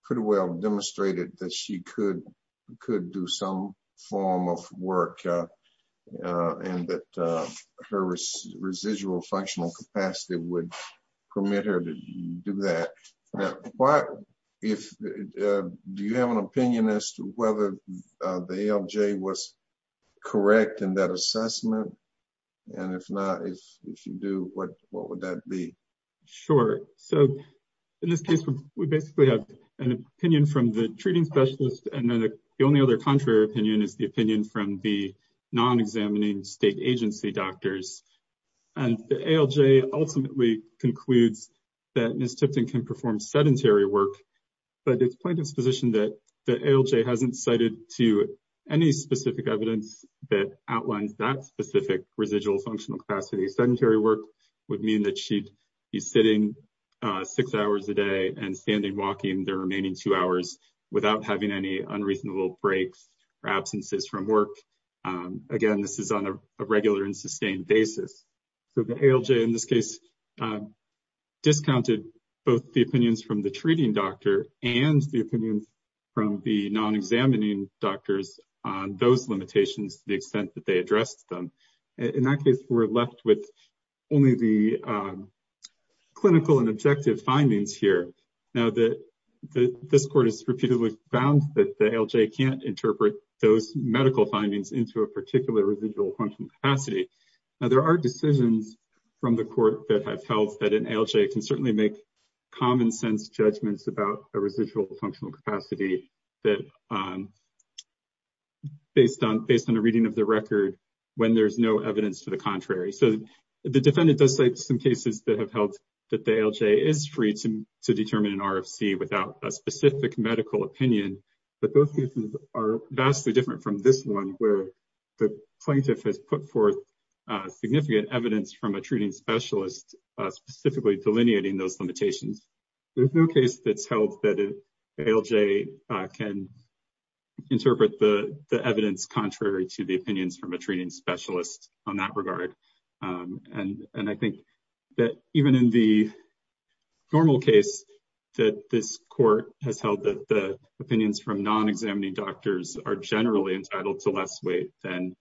pretty well demonstrated that she could do some form of work and that her residual functional capacity would permit her to do that. Do you have an opinion as to whether the ALJ was correct in that assessment? If not, if you do, what would that be? Sure. In this case, we basically have an opinion from the treating specialist, and then the only other contrary opinion is the opinion from the non-examining state agency doctors. The ALJ ultimately concludes that Ms. Tipton can perform sedentary work, but it's point of position that the ALJ hasn't cited to any specific evidence that outlines that specific residual functional capacity. Sedentary work would mean that she'd be sitting six hours a day and standing walking the remaining two hours without having any unreasonable breaks or absences from work. Again, this is on a regular and sustained basis. The ALJ in this case discounted both the opinions from the treating doctor and the opinions from the non-examining doctors on those limitations to the extent that they addressed them. In that case, we're left with only the clinical and objective findings here. Now, this court has repeatedly found that the ALJ can't interpret those medical findings into a particular residual functional capacity. Now, there are decisions from the court that have felt that an ALJ can certainly make common-sense judgments about a residual functional capacity based on a reading of the record when there's no evidence to the contrary. The defendant does cite some cases that have held that the ALJ is free to determine an RFC without a specific medical opinion, but those cases are vastly different from this one where the plaintiff has put forth significant evidence from a treating specialist specifically delineating those limitations. There's no case that's held that ALJ can interpret the evidence contrary to the opinions from a treating specialist on that regard. I think that even in the normal case that this court has held that the opinions from non-examining doctors are generally entitled to less weight than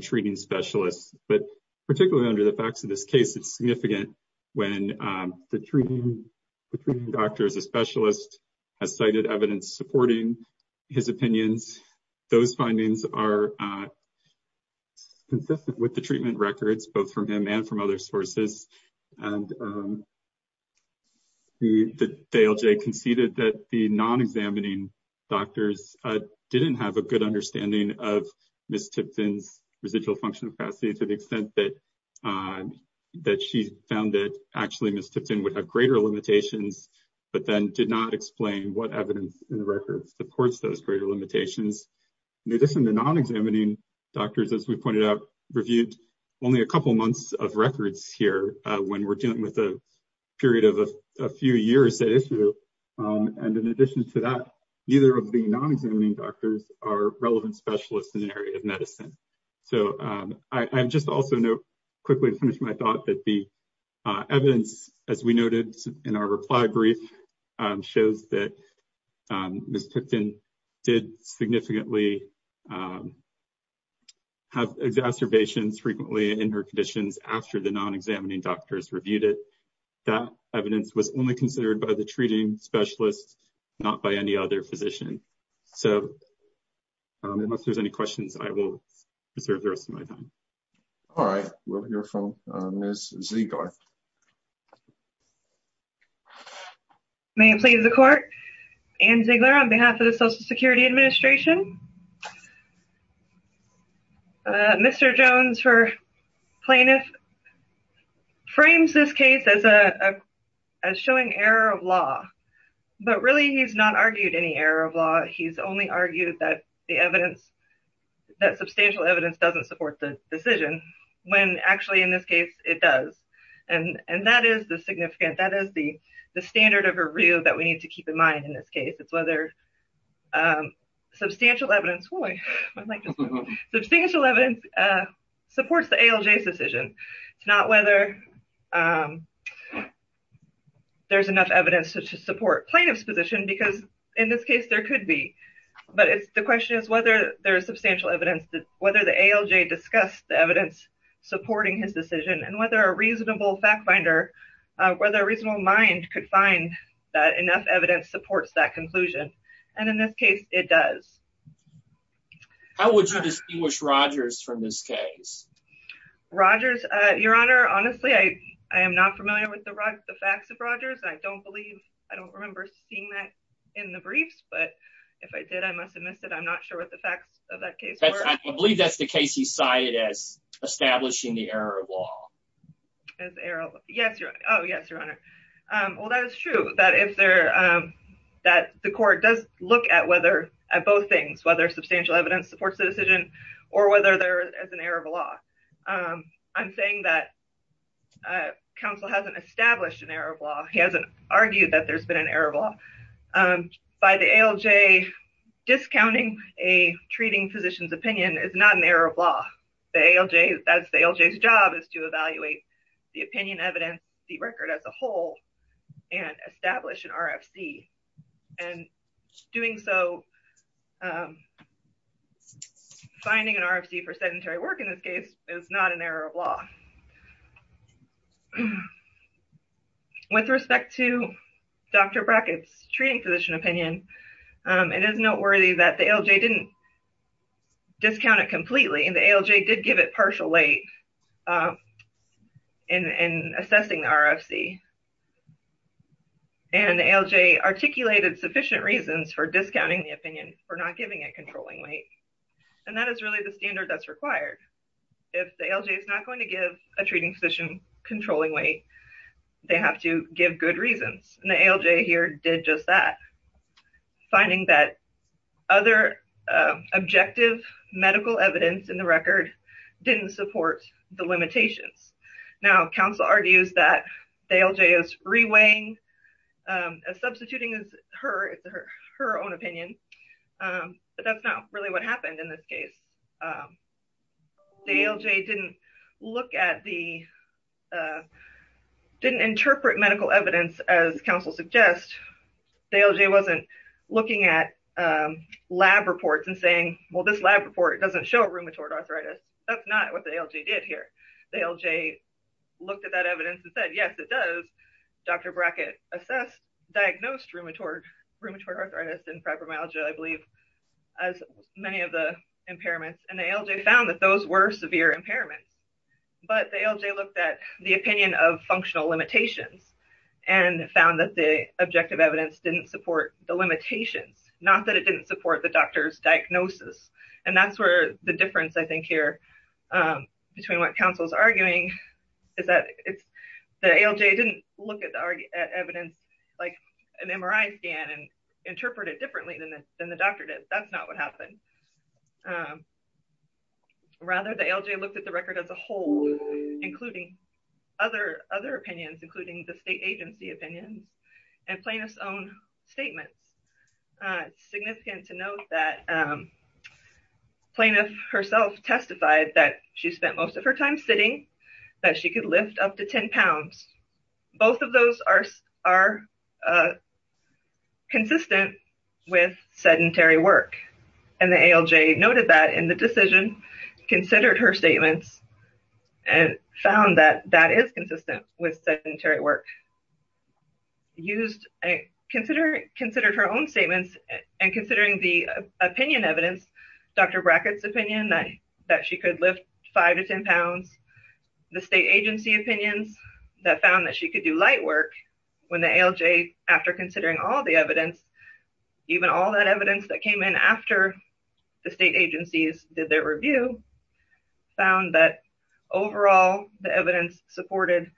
treating specialists, but particularly under the facts of this case, it's significant when the treating doctor, the specialist, has cited evidence supporting his opinions. Those findings are consistent with the treatment records both from him and from other sources. The ALJ conceded that the non-examining doctors didn't have a good understanding of residual functional capacity to the extent that she found that actually MSTFDN would have greater limitations, but then did not explain what evidence in the record supports those greater limitations. In addition, the non-examining doctors, as we pointed out, reviewed only a couple months of records here when we're dealing with a period of a few years. In addition to that, neither of the non-examining doctors are relevant specialists in the area of medicine. I just also note quickly to finish my thought that the evidence, as we noted in our reply brief, shows that MSTFDN did significantly have exacerbations frequently in her conditions after the non-examining doctors reviewed it. That evidence was only considered by the treating specialist, not by any other physician. Unless there's any questions, I will defer to the rest of my time. All right. We'll hear from Ms. Ziegler. May it please the court. Anne Ziegler on behalf of the Social Security Administration. Mr. Jones, her plaintiff, frames this case as showing error of law, but really he's not argued any error of law. He's only argued that substantial evidence doesn't support the decision when actually in this case it does. That is the standard of review that we need to keep in mind in this case. Substantial evidence supports the ALJ's decision. It's not whether there's enough evidence to support plaintiff's position because in this case there could be. The question is whether there's substantial evidence, whether the ALJ discussed the evidence supporting his decision and whether a reasonable fact finder, whether a reasonable mind could find that enough supports that conclusion. In this case, it does. How would you distinguish Rogers from this case? Rogers, your honor, honestly, I am not familiar with the facts of Rogers. I don't remember seeing that in the brief, but if I did, I must have missed it. I'm not sure what the facts of that case were. I believe that's the case you cited as establishing the error of law. Oh, yes, your honor. Well, that is true that the court does look at both things, whether substantial evidence supports the decision or whether there is an error of law. I'm saying that counsel hasn't established an error of law. He hasn't argued that there's been an error of law. By the ALJ discounting a treating physician's opinion is not an error of law. It is not an error of law to evaluate the opinion, evidence, the record as a whole and establish an RFC. And doing so, finding an RFC for sedentary work in this case is not an error of law. With respect to Dr. Brackett's treating physician opinion, it is noteworthy that the ALJ didn't discount it completely. And the ALJ did give it partial weight in assessing RFC. And the ALJ articulated sufficient reasons for discounting the opinion for not giving a controlling weight. And that is really the standard that's required. If the ALJ is not going to give a treating physician controlling weight, they have to give good reasons. And the medical evidence in the record didn't support the limitations. Now, counsel argues that the ALJ is reweighing, substituting her own opinion. But that's not really what happened in this case. The ALJ didn't look at the, didn't interpret medical evidence as counsel suggests. The ALJ wasn't looking at lab reports and saying, well, this lab report doesn't show rheumatoid arthritis. That's not what the ALJ did here. The ALJ looked at that evidence and said, yes, it does. Dr. Brackett assessed, diagnosed rheumatoid arthritis and fibromyalgia, I believe, as many of the impairments. And the ALJ found that those were severe impairments. But the ALJ looked at the opinion of functional limitations and found that the objective evidence didn't support the limitations, not that it didn't support the doctor's diagnosis. And that's where the difference, I think, here between what counsel is arguing is that the ALJ didn't look at evidence like an MRI scan and interpret it differently than the doctor did. That's not what happened. Rather, the ALJ looked at the record as a whole, including other opinions, including the state agency opinion and plaintiff's own statement. It's significant to note that plaintiff herself testified that she spent most of her time sitting, that she could lift up to 10 pounds. Both of those are consistent with sedentary work. And the ALJ noted that in the decision, considered her statements, and found that that is consistent with sedentary work. Considered her own statements and considering the opinion evidence, Dr. Brackett's opinion that she could lift 5 to 10 pounds, the state agency opinion that found that she could do light work, when the ALJ, after considering all the evidence, even all that evidence that came in after the state agencies did their review, found that overall the evidence supported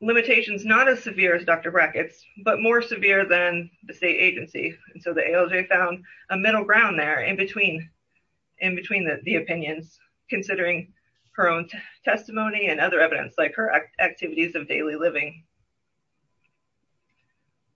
limitations not as severe as Dr. Brackett's, but more severe than the state agency. So the ALJ found a middle ground there in between the opinions, considering her own testimony and other evidence, like her activities of daily living.